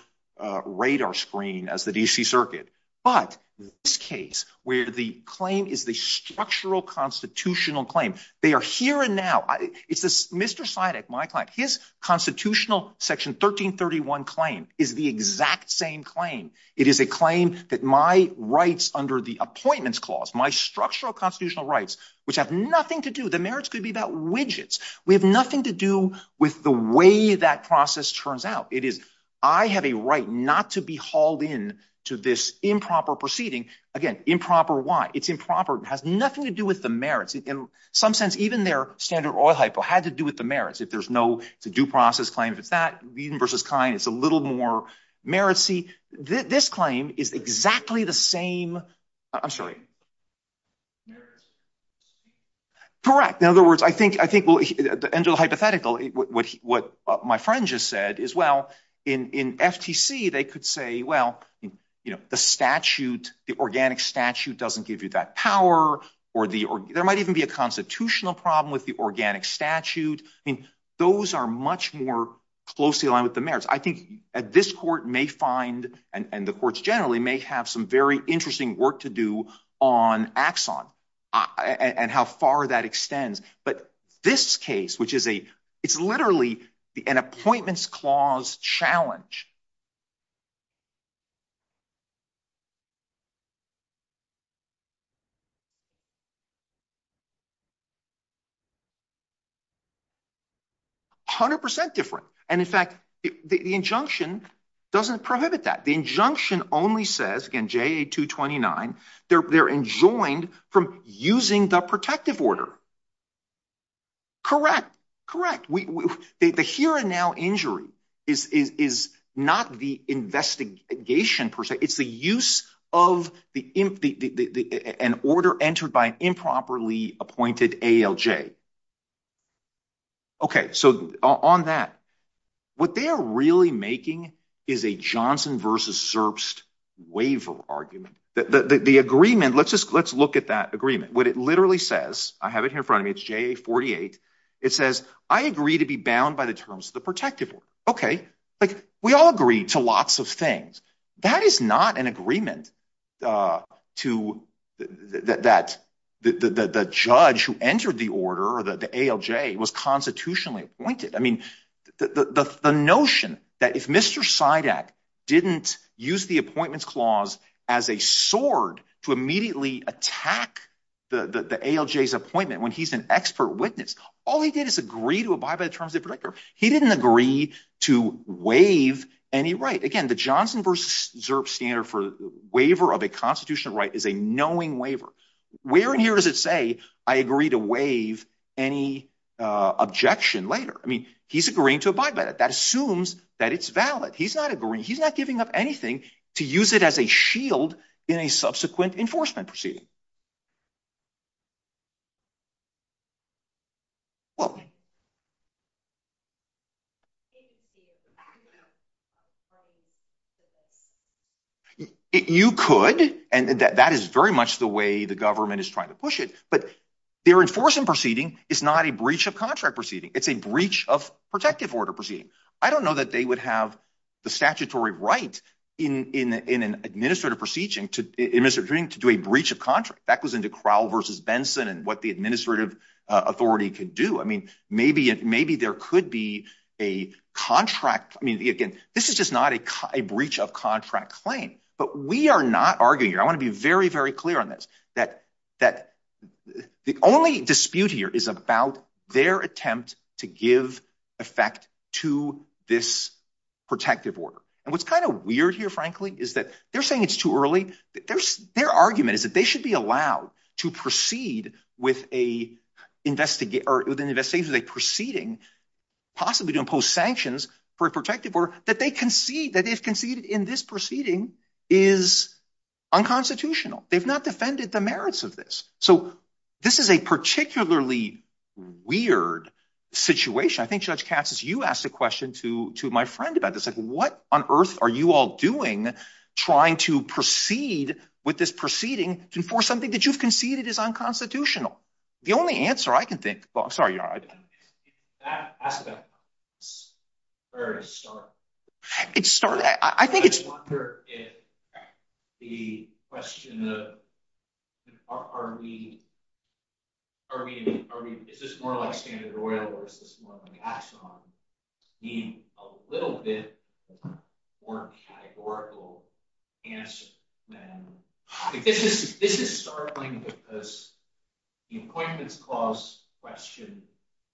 radar screen as the DC circuit, but this case where the claim is the structural constitutional claim, they are here and now. It's this Mr. Seideck, my client, his constitutional section 1331 claim is the exact same claim. It is a claim that my rights under the appointments clause, my structural constitutional rights, which have nothing to do, the merits could be about widgets. We have nothing to do with the way that process turns out. It is, I have a right not to be hauled in to this improper proceeding. Again, improper why? It's improper. It has nothing to do with the merits. In some sense, even their standard oil hypo had to do with the merits, if there's no due process claim, but that Leedem versus Kine, it's a little more meritsy. This claim is exactly the same. I'm sorry. Correct. In other words, I think the angel hypothetical, what my friend just said is, well, in FTC, they could say, well, the statute, the organic statute doesn't give you that power or there might even be a constitutional problem with the organic statute. Those are much more closely aligned with the merits. I think at this court may find, and the courts generally may have some very interesting work to do on axon and how far that extends. But this case, which is a, it's literally an appointments clause challenge. A hundred percent different. And in fact, the injunction doesn't prohibit that the injunction only says in JA 229, they're, they're enjoined from using the protective order. Correct. Correct. We, the here and now injury is, is not the investigation person. It's the use of the, the, the, the, the, an order entered by improperly appointed ALJ. Okay. So on that, what they are really making is a Johnson versus Zerbst waiver argument. The agreement, let's just, let's look at that agreement. What it literally says, I have it here in front of me, it's JA 48. It says, I agree to be bound by the terms of the protective order. Okay. We all agree to lots of things. That is not an agreement to that, that the, the, the, the judge who entered the order, the ALJ was constitutionally appointed. I mean, the, the, the, the notion that if Mr. Sidak didn't use the appointments clause as a sword to immediately attack the ALJ's appointment, when he's an expert witness, all he did is agree to abide by the terms of the waive any right. Again, the Johnson versus Zerbst standard for waiver of a constitutional right is a knowing waiver. Where in here does it say I agree to waive any objection later? I mean, he's agreeing to abide by that. That assumes that it's valid. He's not agreeing. He's not giving up anything to use it as a shield in a subsequent enforcement proceeding. Well, you could, and that is very much the way the government is trying to push it, but they're enforcing proceeding. It's not a breach of contract proceeding. It's a breach of protective order proceeding. I don't know that they would have the statutory right in an administrative proceeding to do a breach of contract. That goes into Crowell versus Benson and what the administrative authority could do. I mean, maybe there could be a contract. I mean, again, this is just not a breach of contract claim, but we are not arguing here. I want to be very, very clear on this, that the only dispute here is about their attempt to give effect to this protective order. And what's kind of weird here, frankly, is that they're saying it's too early. Their argument is that they should be allowed to proceed with an investigation of a proceeding, possibly to impose sanctions for a protective order that they've conceded in this proceeding is unconstitutional. They've not defended the merits of this. So this is a particularly weird situation. I think Judge Katsas, you asked a question to my friend about this, like what on earth are you all doing trying to proceed with this proceeding to enforce something that you've conceded is unconstitutional? The only answer I can think, well, sorry. That aspect is very startling. I just wonder if the question of, is this more like standard or oil, or is this more of an axon, need a little bit more categorical answer. This is startling because the appointments clause question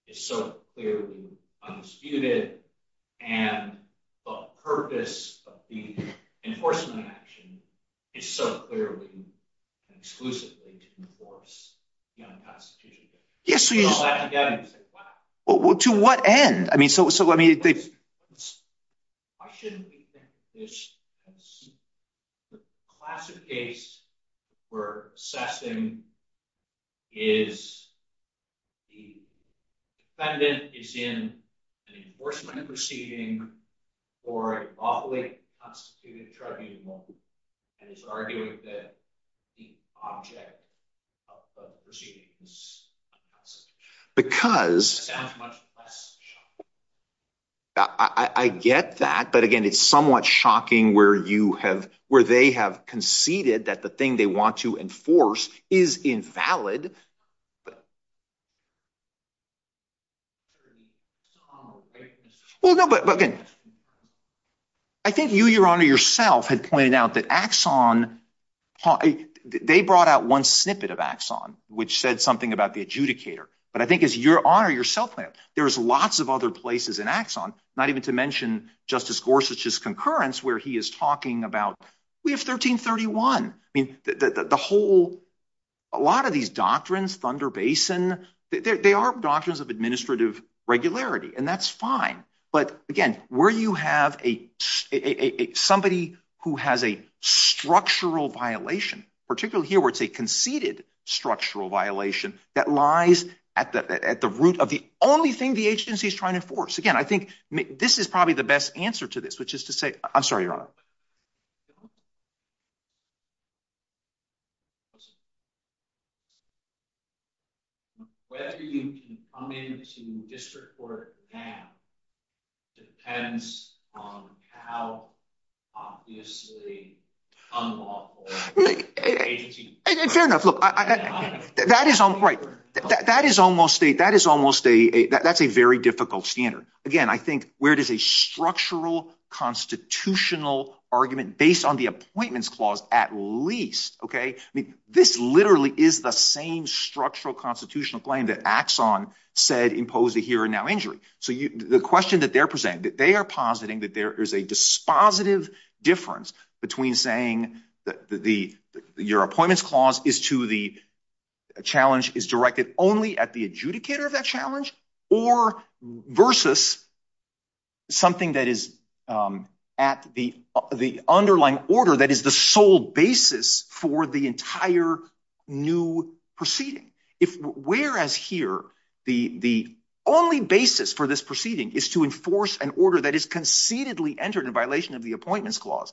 is so clearly undisputed and the purpose of the enforcement action is so clearly exclusively to enforce the unconstitutionality. To what end? I mean, so why shouldn't we think which class of case we're assessing is the defendant is in the enforcement of the proceeding or a lawfully prosecuted tribunal and is arguably the object of the proceedings? Because I get that, but again, it's somewhat shocking where you have, where they have conceded that the thing they want to enforce is invalid. Well, no, but again, I think you, Your Honor, yourself had pointed out that axon, they brought out one snippet of axon, which said something about the adjudicator, but I think as Your Honor, yourself have, there's lots of other places in axon, not even to mention Justice Gorsuch's concurrence, where he is talking about, we have 1331. I mean, the whole, a lot of these doctrines, Thunder Basin, they are doctrines of administrative regularity and that's fine. But again, where you have a, somebody who has a structural violation, particularly here where it's a conceded structural violation that lies at the root of the only thing the agency is trying to enforce. Again, I think this is probably the best answer to this, which is to say, I'm sorry, Your Honor. Where everything can come into district court now depends on how obviously unlawful the agency is. Fair enough. Look, that is almost a, that is almost a, that's a very difficult standard. Again, I think where it is a structural constitutional argument based on the appointments clause, at least, okay. I mean, this literally is the same structural constitutional claim that axon said imposed a here and now injury. So the question that they're presenting, that they are positing that there is a dispositive difference between saying that the, your appointments clause is to the challenge is directed only at the adjudicator of that challenge or versus something that is at the, the underlying order. That is the sole basis for the entire new proceeding. If whereas here, the, the only basis for this proceeding is to enforce an order that is concededly entered in violation of the appointments clause.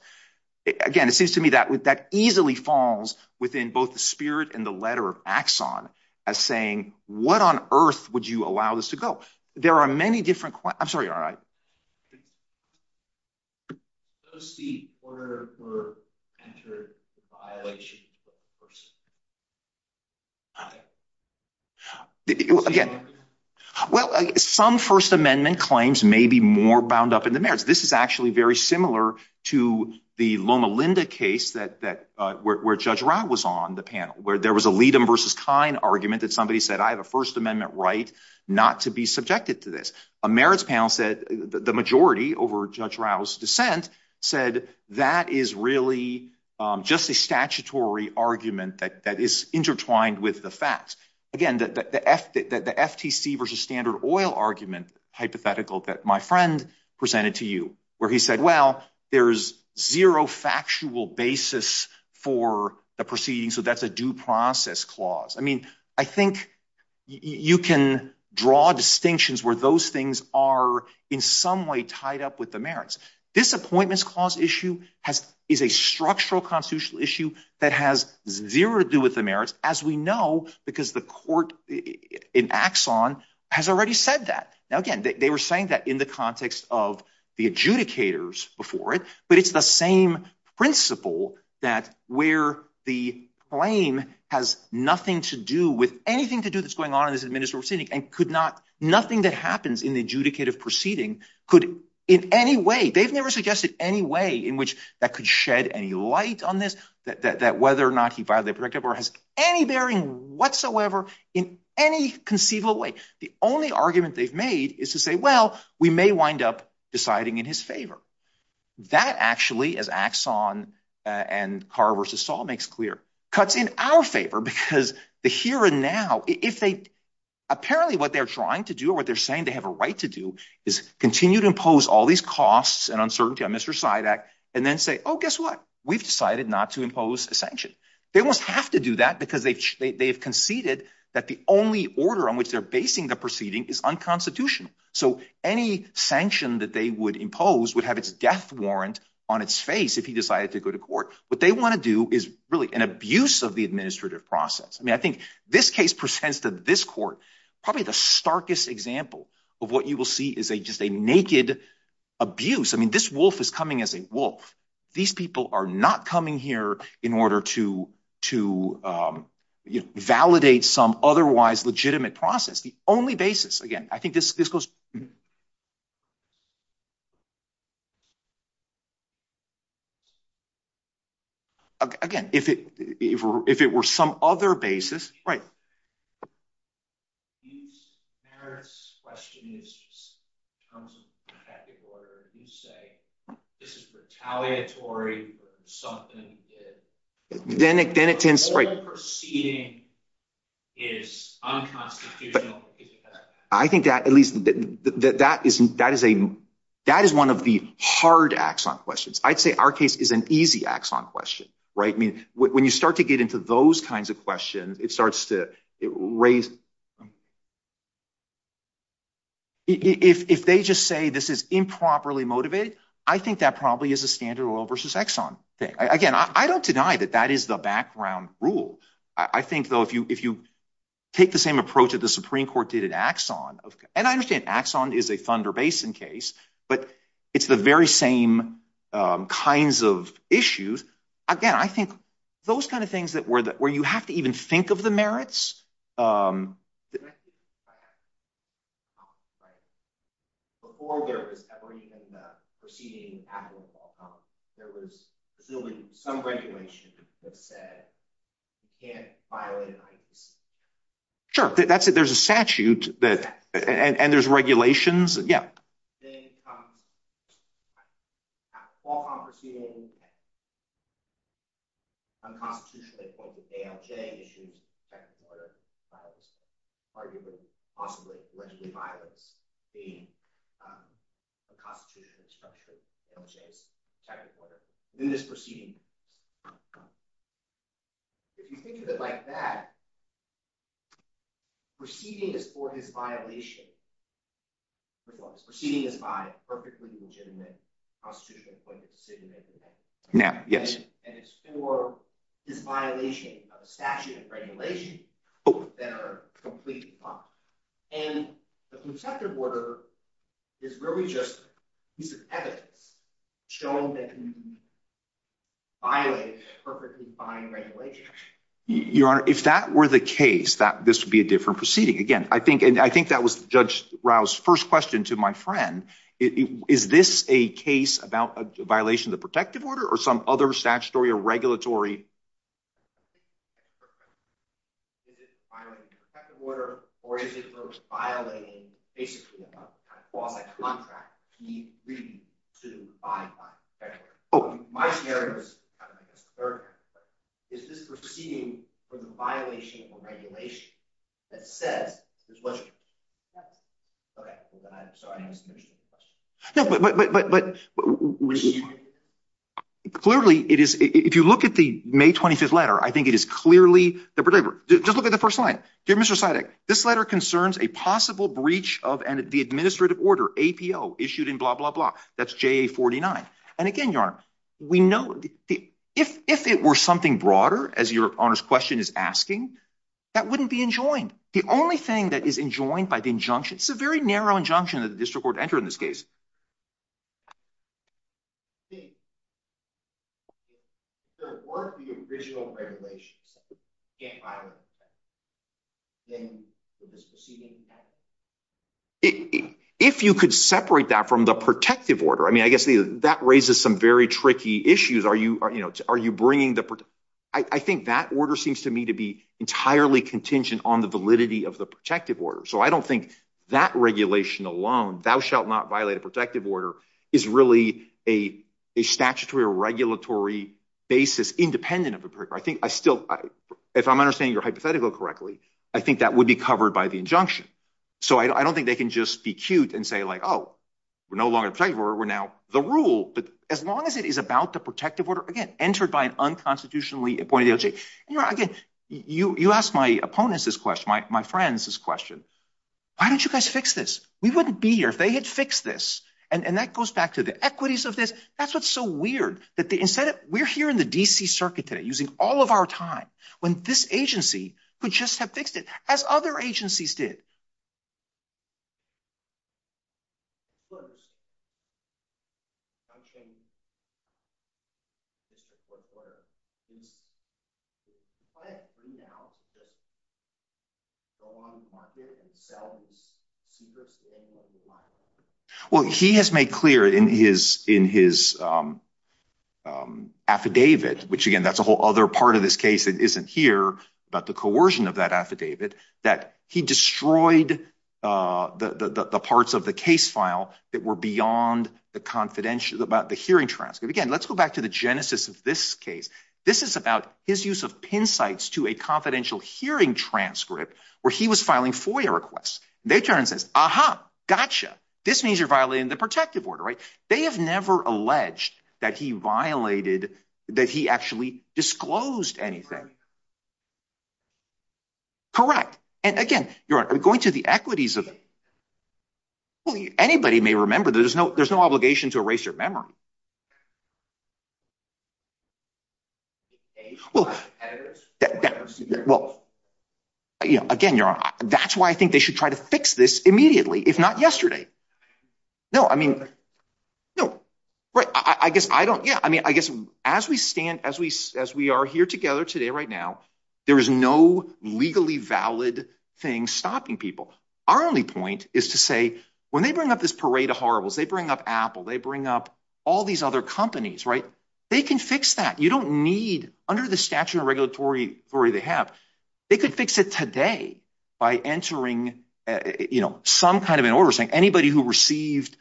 Again, it seems to me that that easily falls within both the spirit and the letter of axon as saying, what on earth would you allow this to go? There are many different, I'm sorry. All right. Let's see. Again, well, some first amendment claims may be more bound up in the marriage. This is actually very similar to the Loma Linda case that, that where, where judge Rob was on the panel, where there was a lead them versus kind argument that somebody said, I have a first amendment, right? Not to be subjected to this. A marriage panel said that the majority over judge Rouse dissent said that is really just a statutory argument that is intertwined with the facts. Again, that the F that the FTC versus standard oil argument hypothetical that my friend presented to you where he said, well, there's zero factual basis for the proceedings. So that's a due process clause. I mean, I think you can draw distinctions where those things are in some way tied up with the merits. This appointments clause issue has is a structural constitutional issue that has zero to do with the merits as we know, because the court in axon has already said that. Now, again, they were saying that in the context of the adjudicators before it, but it's the same principle that where the claim has nothing to do with anything to do with what's going on in this administrative city and could not nothing that happens in the adjudicative proceeding could in any way, they've never suggested any way in which that could shed any light on this, that, that, that whether or not he filed that or has any bearing whatsoever in any conceivable way. The only argument they've made is to say, well, we may wind up deciding in his favor. That actually, as axon and carver's assault makes clear cuts in our favor because the here and now, if they apparently what they're trying to do or what they're saying, they have a right to do is continue to impose all these costs and uncertainty on Mr. Sidek and then say, oh, guess what? We've decided not to impose a sanction. They almost have to do that because they've conceded that the only order on which they're basing the proceeding is unconstitutional. So any sanction that they would impose would have its death warrant on its face. If he decided to go to court, what they want to do is really an abuse of the administrative process. I mean, I think this case presents to this court, probably the starkest example of what you will see is a, just a naked abuse. I mean, this wolf is coming as a wolf. These people are not coming here in order to, to, um, you know, validate some otherwise legitimate process. The only basis, again, I think this, this goes, again, if it, if it were some other basis, right. I think that at least that, that isn't, that is a, that is one of the hard axon questions. I'd say our case is an easy axon question, right? I mean, when you start to get into those kinds of questions, it starts to raise, if they just say this is improperly motivated, I think that probably is a standard oil versus exon thing. Again, I don't deny that that is the background rule. I think though, if you, if you take the same approach that the Supreme Court did at axon, and I understand axon is a Thunder Basin case, but it's the very same kinds of issues. Again, I think those kinds of things that were, where you have to even think of the merits. Sure. That's it. There's a statute that, and there's regulations. Yeah. Unconstitutionally appointed, ALJ issues, second order, arguably, possibly, allegedly violated the Constitution, structurally, ALJ, second order. In this proceeding, if you think of it like that, proceeding is for this violation, proceeding is by perfectly legitimate constitutional appointment decision making. Now, yes. And it's for this violation of a statute and regulation that are completely fine. And the contempt of order is really just a piece of ethic showing that you violated that perfectly fine regulation. Your Honor, if that were the case, that this would be a different proceeding. Again, I think, and I think that was Judge Rao's first question to my friend, is this a case about a violation of the protective order or some other statutory or regulatory? Is it violating the protective order or is it most violating the basis of the contract to be free to abide by the protection order? Oh, my scenario is, is this proceeding from a violation of a regulation that said, okay, sorry. No, but clearly, it is, if you look at the May 25th letter, I think it is clearly the, just look at the first line. Dear Mr. Sidek, this letter concerns a possible breach of the administrative order, APO, issued in blah, blah, blah. That's JA 49. And again, Your Honor, we know, if it were something broader, as your Honor's question is asking, that wouldn't be that is enjoined by the injunction. It's a very narrow injunction that the district court entered in this case. If you could separate that from the protective order, I mean, I guess that raises some very tricky issues. Are you bringing the, I think that order seems to me to be entirely contingent on the validity of the protective order. So I don't think that regulation alone, thou shalt not violate a protective order, is really a statutory or regulatory basis independent of the, I think I still, if I'm understanding your hypothetical correctly, I think that would be covered by the injunction. So I don't think they can just be cute and say like, oh, we're no longer protected, we're now the rule. But as long as it is about the protective order, again, entered by an unconstitutionally appointed agency. You know, again, you asked my opponents this question, my friends this question. Why don't you guys fix this? We wouldn't be here if they had fixed this. And that goes back to the equities of this. That's what's so weird that the incentive, we're here in the DC circuit today using all of our time when this agency could just have fixed it as other agencies did. Well, he has made clear in his affidavit, which again, that's a whole other part of this case that isn't here, but the coercion of that affidavit, that he destroyed the parts of the case file that were beyond the confidential, the hearing transcript. Again, let's go back to the genesis of this case. This is about his use of pin sites to a confidential hearing transcript where he was filing FOIA requests. They turn and says, aha, gotcha. This means you're violating the protective order, right? They have never alleged that he violated, that he actually disclosed anything. Correct. And again, you're going to the equities of it. Anybody may remember that there's no obligation to erase your memory. Well, again, that's why I think they should try to fix this immediately. It's not yesterday. No, I mean, no, right. I guess I don't. Yeah. I mean, I guess as we stand, as we, as we are here together today, right now, there is no legally valid thing stopping people. Our only point is to say, when they bring up this parade of horribles, they bring up Apple, they bring up all these other companies, right? They can fix that. You don't need under the statute of regulatory authority they have, they could fix it today by entering, you know, some kind of an order saying anybody who received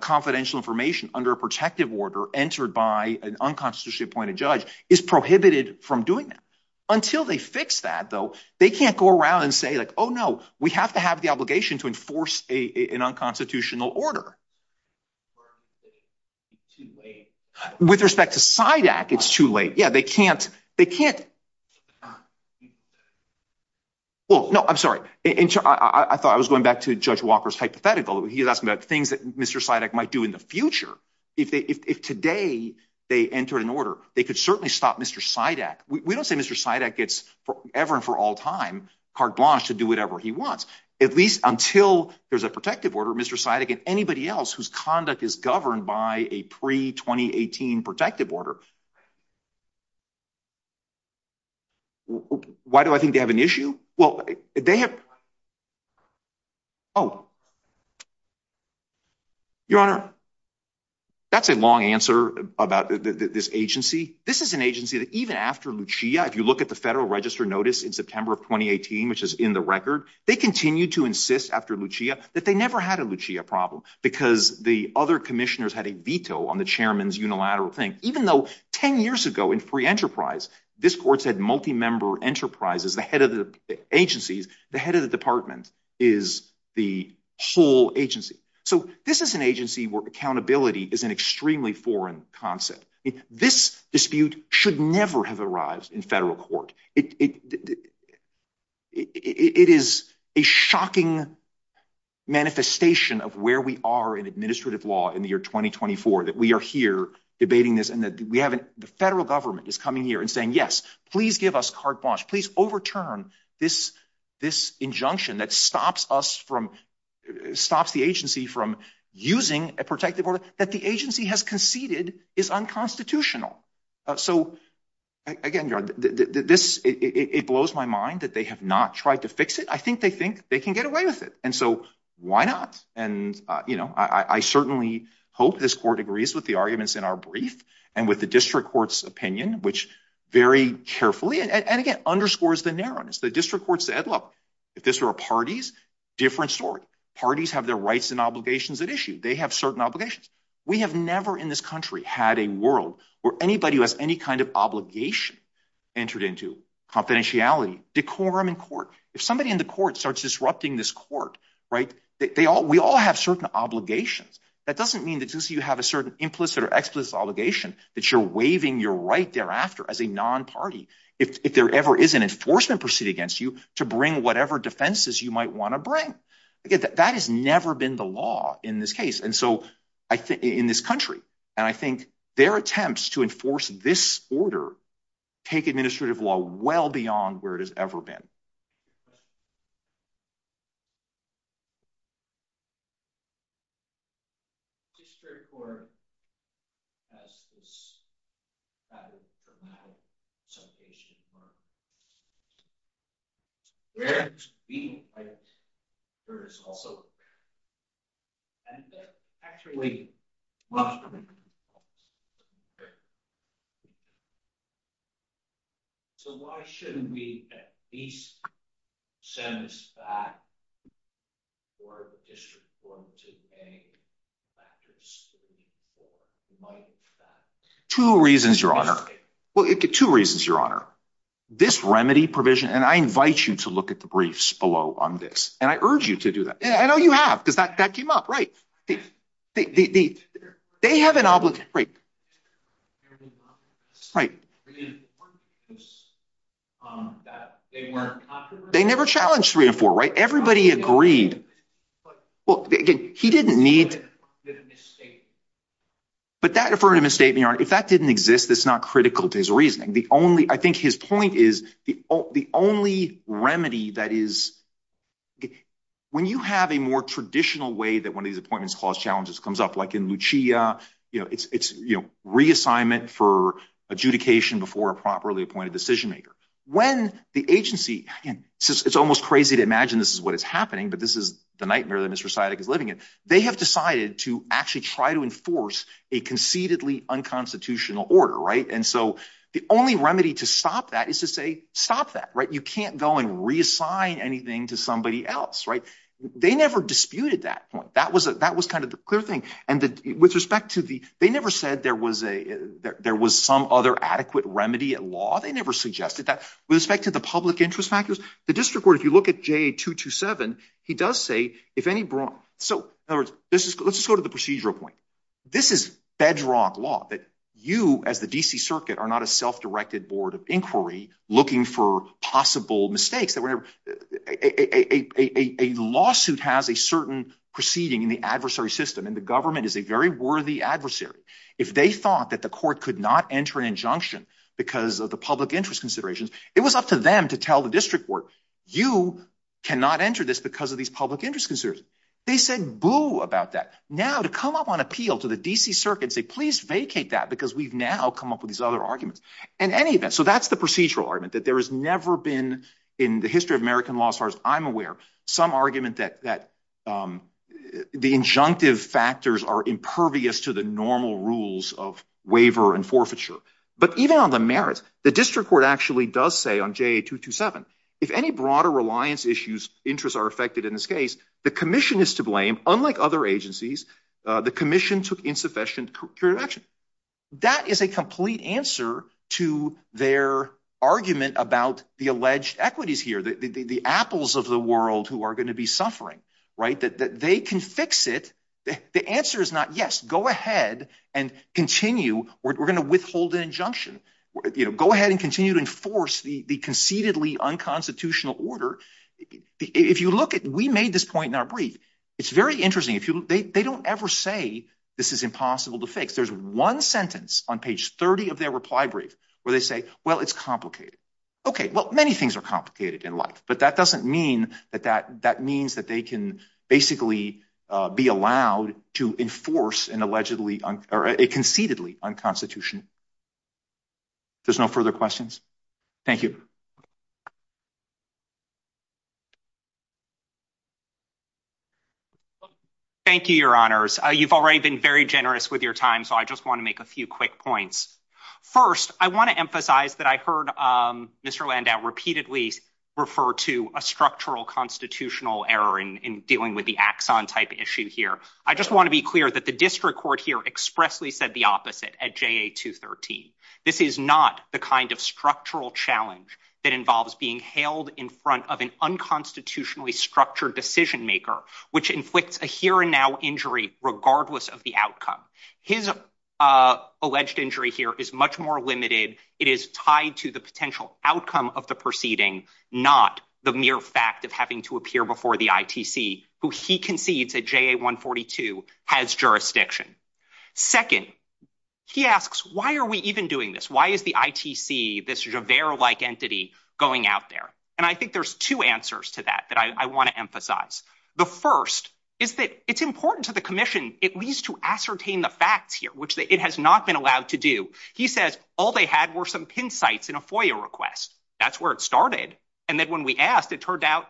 confidential information under a protective order entered by an unconstitutionally appointed judge is prohibited from doing that. Until they fix that, though, they can't go around and say like, oh, no, we have to have the obligation to enforce an unconstitutional order. With respect to CIDAC, it's too late. Yeah, they can't, they can't. Well, no, I'm sorry. I thought I was going back to Judge Walker's hypothetical. He asked me about things that Mr. CIDAC might do in the future. If they, if today they entered an order, they could certainly stop Mr. CIDAC. We don't say Mr. CIDAC gets forever and for all time, carte blanche to do whatever he wants. At least until there's a protective order, Mr. CIDAC and anybody else whose conduct is governed by a pre-2018 protective order is prohibited. Why do I think they have an issue? Well, they have, oh, your honor, that's a long answer about this agency. This is an agency that even after Lucia, if you look at the federal register notice in September of 2018, which is in the record, they continue to insist after Lucia that they never had a Lucia problem because the other 10 years ago in free enterprise, this court said multi-member enterprise is the head of the agency. The head of the department is the whole agency. So this is an agency where accountability is an extremely foreign concept. This dispute should never have arised in federal court. It is a shocking manifestation of where we are in administrative law in the year 2024 that we are debating this and the federal government is coming here and saying, yes, please give us carte blanche. Please overturn this injunction that stops the agency from using a protective order that the agency has conceded is unconstitutional. So again, your honor, it blows my mind that they have not tried to fix it. I think they think they can get away with it. And so I'm going to end with the district court's opinion, which very carefully, and again, underscores the narrowness. The district court said, look, if this were parties, different story. Parties have their rights and obligations at issue. They have certain obligations. We have never in this country had a world where anybody who has any kind of obligation entered into confidentiality, decorum in court. If somebody in the court starts disrupting this court, right, we all have certain obligations. That doesn't mean that you have a certain implicit obligation that you're waiving your right thereafter as a non-party. If there ever is an enforcement proceeding against you to bring whatever defenses you might want to bring. That has never been the law in this case. And so I think in this country, and I think their attempts to enforce this order, take administrative law well beyond where it has ever been. Two reasons, your honor. Well, two reasons, your honor. This remedy provision, and I invite you to look at the briefs below on this, and I urge you to do that. I know you have, that came up, right? They have an obligation, right? They never challenged three and four, right? Everybody agreed. Well, again, he didn't need, but that, if we're going to misstate, if that didn't exist, that's not critical to his reasoning. The only, I think his point is the only remedy that is, okay, when you have a more traditional way that one of these appointments cause challenges comes up, like in Lucia, it's reassignment for adjudication before a properly appointed decision-maker. When the agency, it's almost crazy to imagine this is what is happening, but this is the nightmare that Mr. Syedig is living in. They have decided to actually try to enforce a concededly unconstitutional order, right? And so the only remedy to stop that is to stop that, right? You can't go and reassign anything to somebody else, right? They never disputed that point. That was kind of the clear thing. And with respect to the, they never said there was some other adequate remedy at law. They never suggested that. With respect to the public interest factors, the district court, if you look at JA-227, he does say if any, so in other words, let's just go to the procedural point. This is bedrock law that you as the DC circuit are not a self-directed board of inquiry looking for possible mistakes. A lawsuit has a certain proceeding in the adversary system, and the government is a very worthy adversary. If they thought that the court could not enter an injunction because of the public interest considerations, it was up to them to tell the district court, you cannot enter this because of these public interest considerations. They said boo about that. Now to come up on appeal to the DC circuit and say, please vacate that because we've now come up with these other arguments. In any event, so that's the procedural argument that there has never been in the history of American law as far as I'm aware, some argument that the injunctive factors are impervious to the normal rules of waiver and forfeiture. But even on the merits, the district court actually does say on JA-227, if any broader reliance issues, interests are affected in this case, the commission is to blame. Unlike other agencies, the commission took insufficient action. That is a complete answer to their argument about the alleged equities here, the apples of the world who are going to be suffering. They can fix it. The answer is not yes, go ahead and continue. We're going to withhold an injunction. Go ahead and continue to enforce the conceitedly unconstitutional order if you look at, we made this point in our brief. It's very interesting. They don't ever say this is impossible to fix. There's one sentence on page 30 of their reply brief where they say, well, it's complicated. Okay. Well, many things are complicated in life, but that doesn't mean that that means that they can basically be allowed to enforce an allegedly, or a conceitedly unconstitutional. There's no further questions. Thank you. Thank you, your honors. You've already been very generous with your time. So I just want to make a few quick points. First, I want to emphasize that I heard Mr. Landau repeatedly refer to a structural constitutional error in dealing with the axon type issue here. I just want to be clear that the district court here expressly said the opposite at JA-213. This is not the kind of structural challenge that involves being held in front of an unconstitutionally structured decision-maker, which inflicts a here and now injury, regardless of the outcome. His alleged injury here is much more limited. It is tied to the potential outcome of the proceeding, not the mere fact of having to appear before the ITC, who he concedes at JA-142 has jurisdiction. Second, he asks, why are we even doing this? Why is the ITC, this Javert-like entity going out there? And I think there's two answers to that, that I want to emphasize. The first is that it's important to the commission, at least to ascertain the facts here, which it has not been allowed to do. He says, all they had were some pin sites in a FOIA request. That's where it started. And then when we asked, it turned out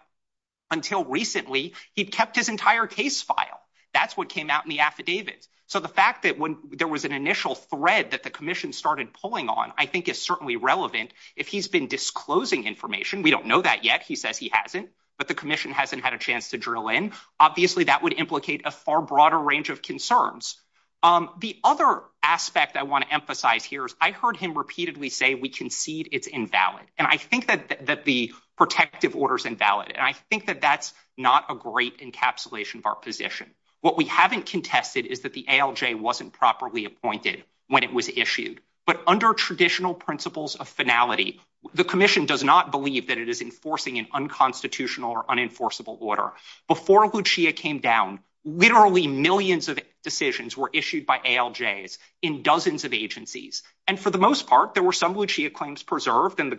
until recently, he'd kept his entire case file. That's what came out in the affidavit. So the fact that when there was an initial thread that the commission started pulling on, I think is certainly relevant. If he's been disclosing information, we don't know that yet. He said he hasn't, but the commission hasn't had a chance to drill in. Obviously that would implicate a far broader range of concerns. The other aspect I want to emphasize here is I heard him repeatedly say, we concede it's invalid. And I think that the protective order is invalid. And I think that that's not a great encapsulation of our position. What we haven't contested is that the ALJ wasn't properly appointed when it was issued. But under traditional principles of finality, the commission does not believe that it is enforcing an unconstitutional or unenforceable order. Before Lucia came down, literally millions of decisions were issued by ALJs in dozens of agencies. And for the most part, there were some Lucia claims preserved and the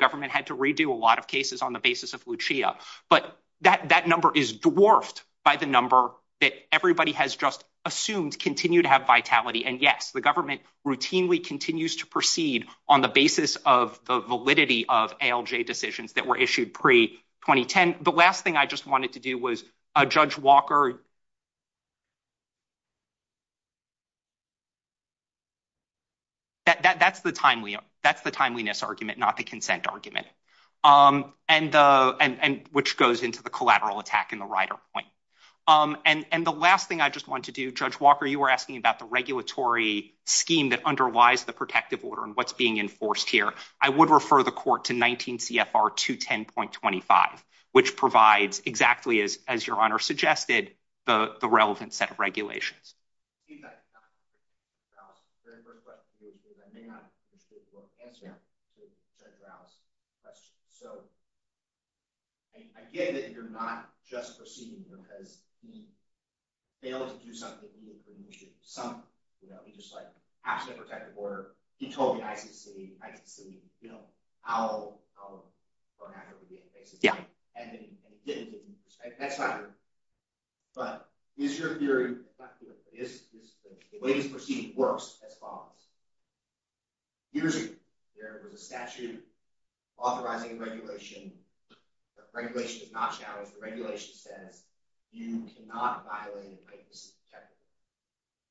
number is dwarfed by the number that everybody has just assumed continue to have vitality. And yes, the government routinely continues to proceed on the basis of the validity of ALJ decisions that were issued pre-2010. The last thing I just wanted to do was Judge Walker. That's the timeliness argument, not the consent argument, and which goes into the collateral attack in the rider point. And the last thing I just want to do, Judge Walker, you were asking about the regulatory scheme that underlies the protective order and what's being enforced here. I would refer the court to 19 CFR 210.25, which provides exactly as much information as the court can. So I get that you're not just proceeding because he failed to do something. He just like asked for protective order. He told me how it would be. But is your perspective, is the way you're proceeding works as follows. Usually, there is a statute authorizing a regulation. The regulation does not challenge. The regulation says, you cannot violate it.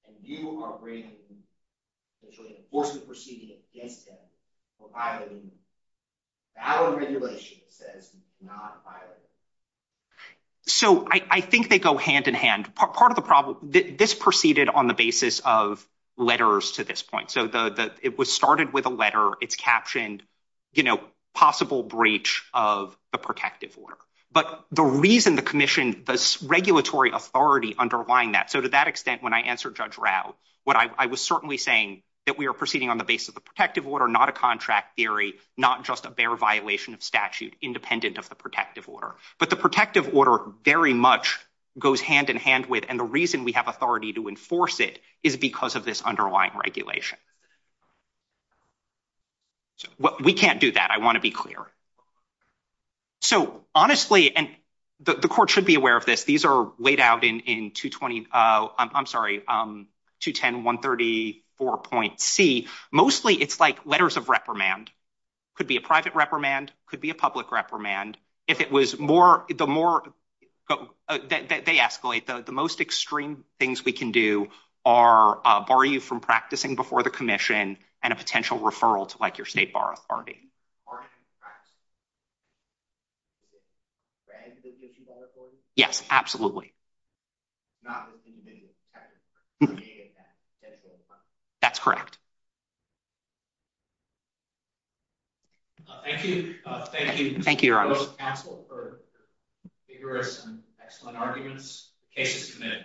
And you are bringing, which will enforce the proceeding against him for violating the valid regulation that says you cannot violate it. So I think they go hand in hand. Part of the problem, this proceeded on the basis of letters to this point. So it was started with a letter. It's captioned, you know, possible breach of the protective order. But the reason the commission, the regulatory authority underlying that. So to that extent, when I answered Judge Rao, what I was certainly saying that we are proceeding on the basis of the protective order, not a contract theory, not just a bare violation of statute, independent of the protective order. But the protective order very much goes hand in hand with and the reason we have authority to enforce it is because of this underlying regulation. We can't do that. I want to be clear. So honestly, and the court should be aware of this. These are laid out in 220, I'm sorry, 210-134.C. Mostly, it's like letters of reprimand. Could be a private reprimand, could be a public reprimand. If it was more, the more that they escalate, the most extreme things we can do are bar you from practicing before the commission and a potential referral to like your state bar authority. Yes, absolutely. Not with individual protection. That's correct. Thank you. Thank you. Thank you, Your Honor. Thank you to the council for your excellent arguments. The case is submitted.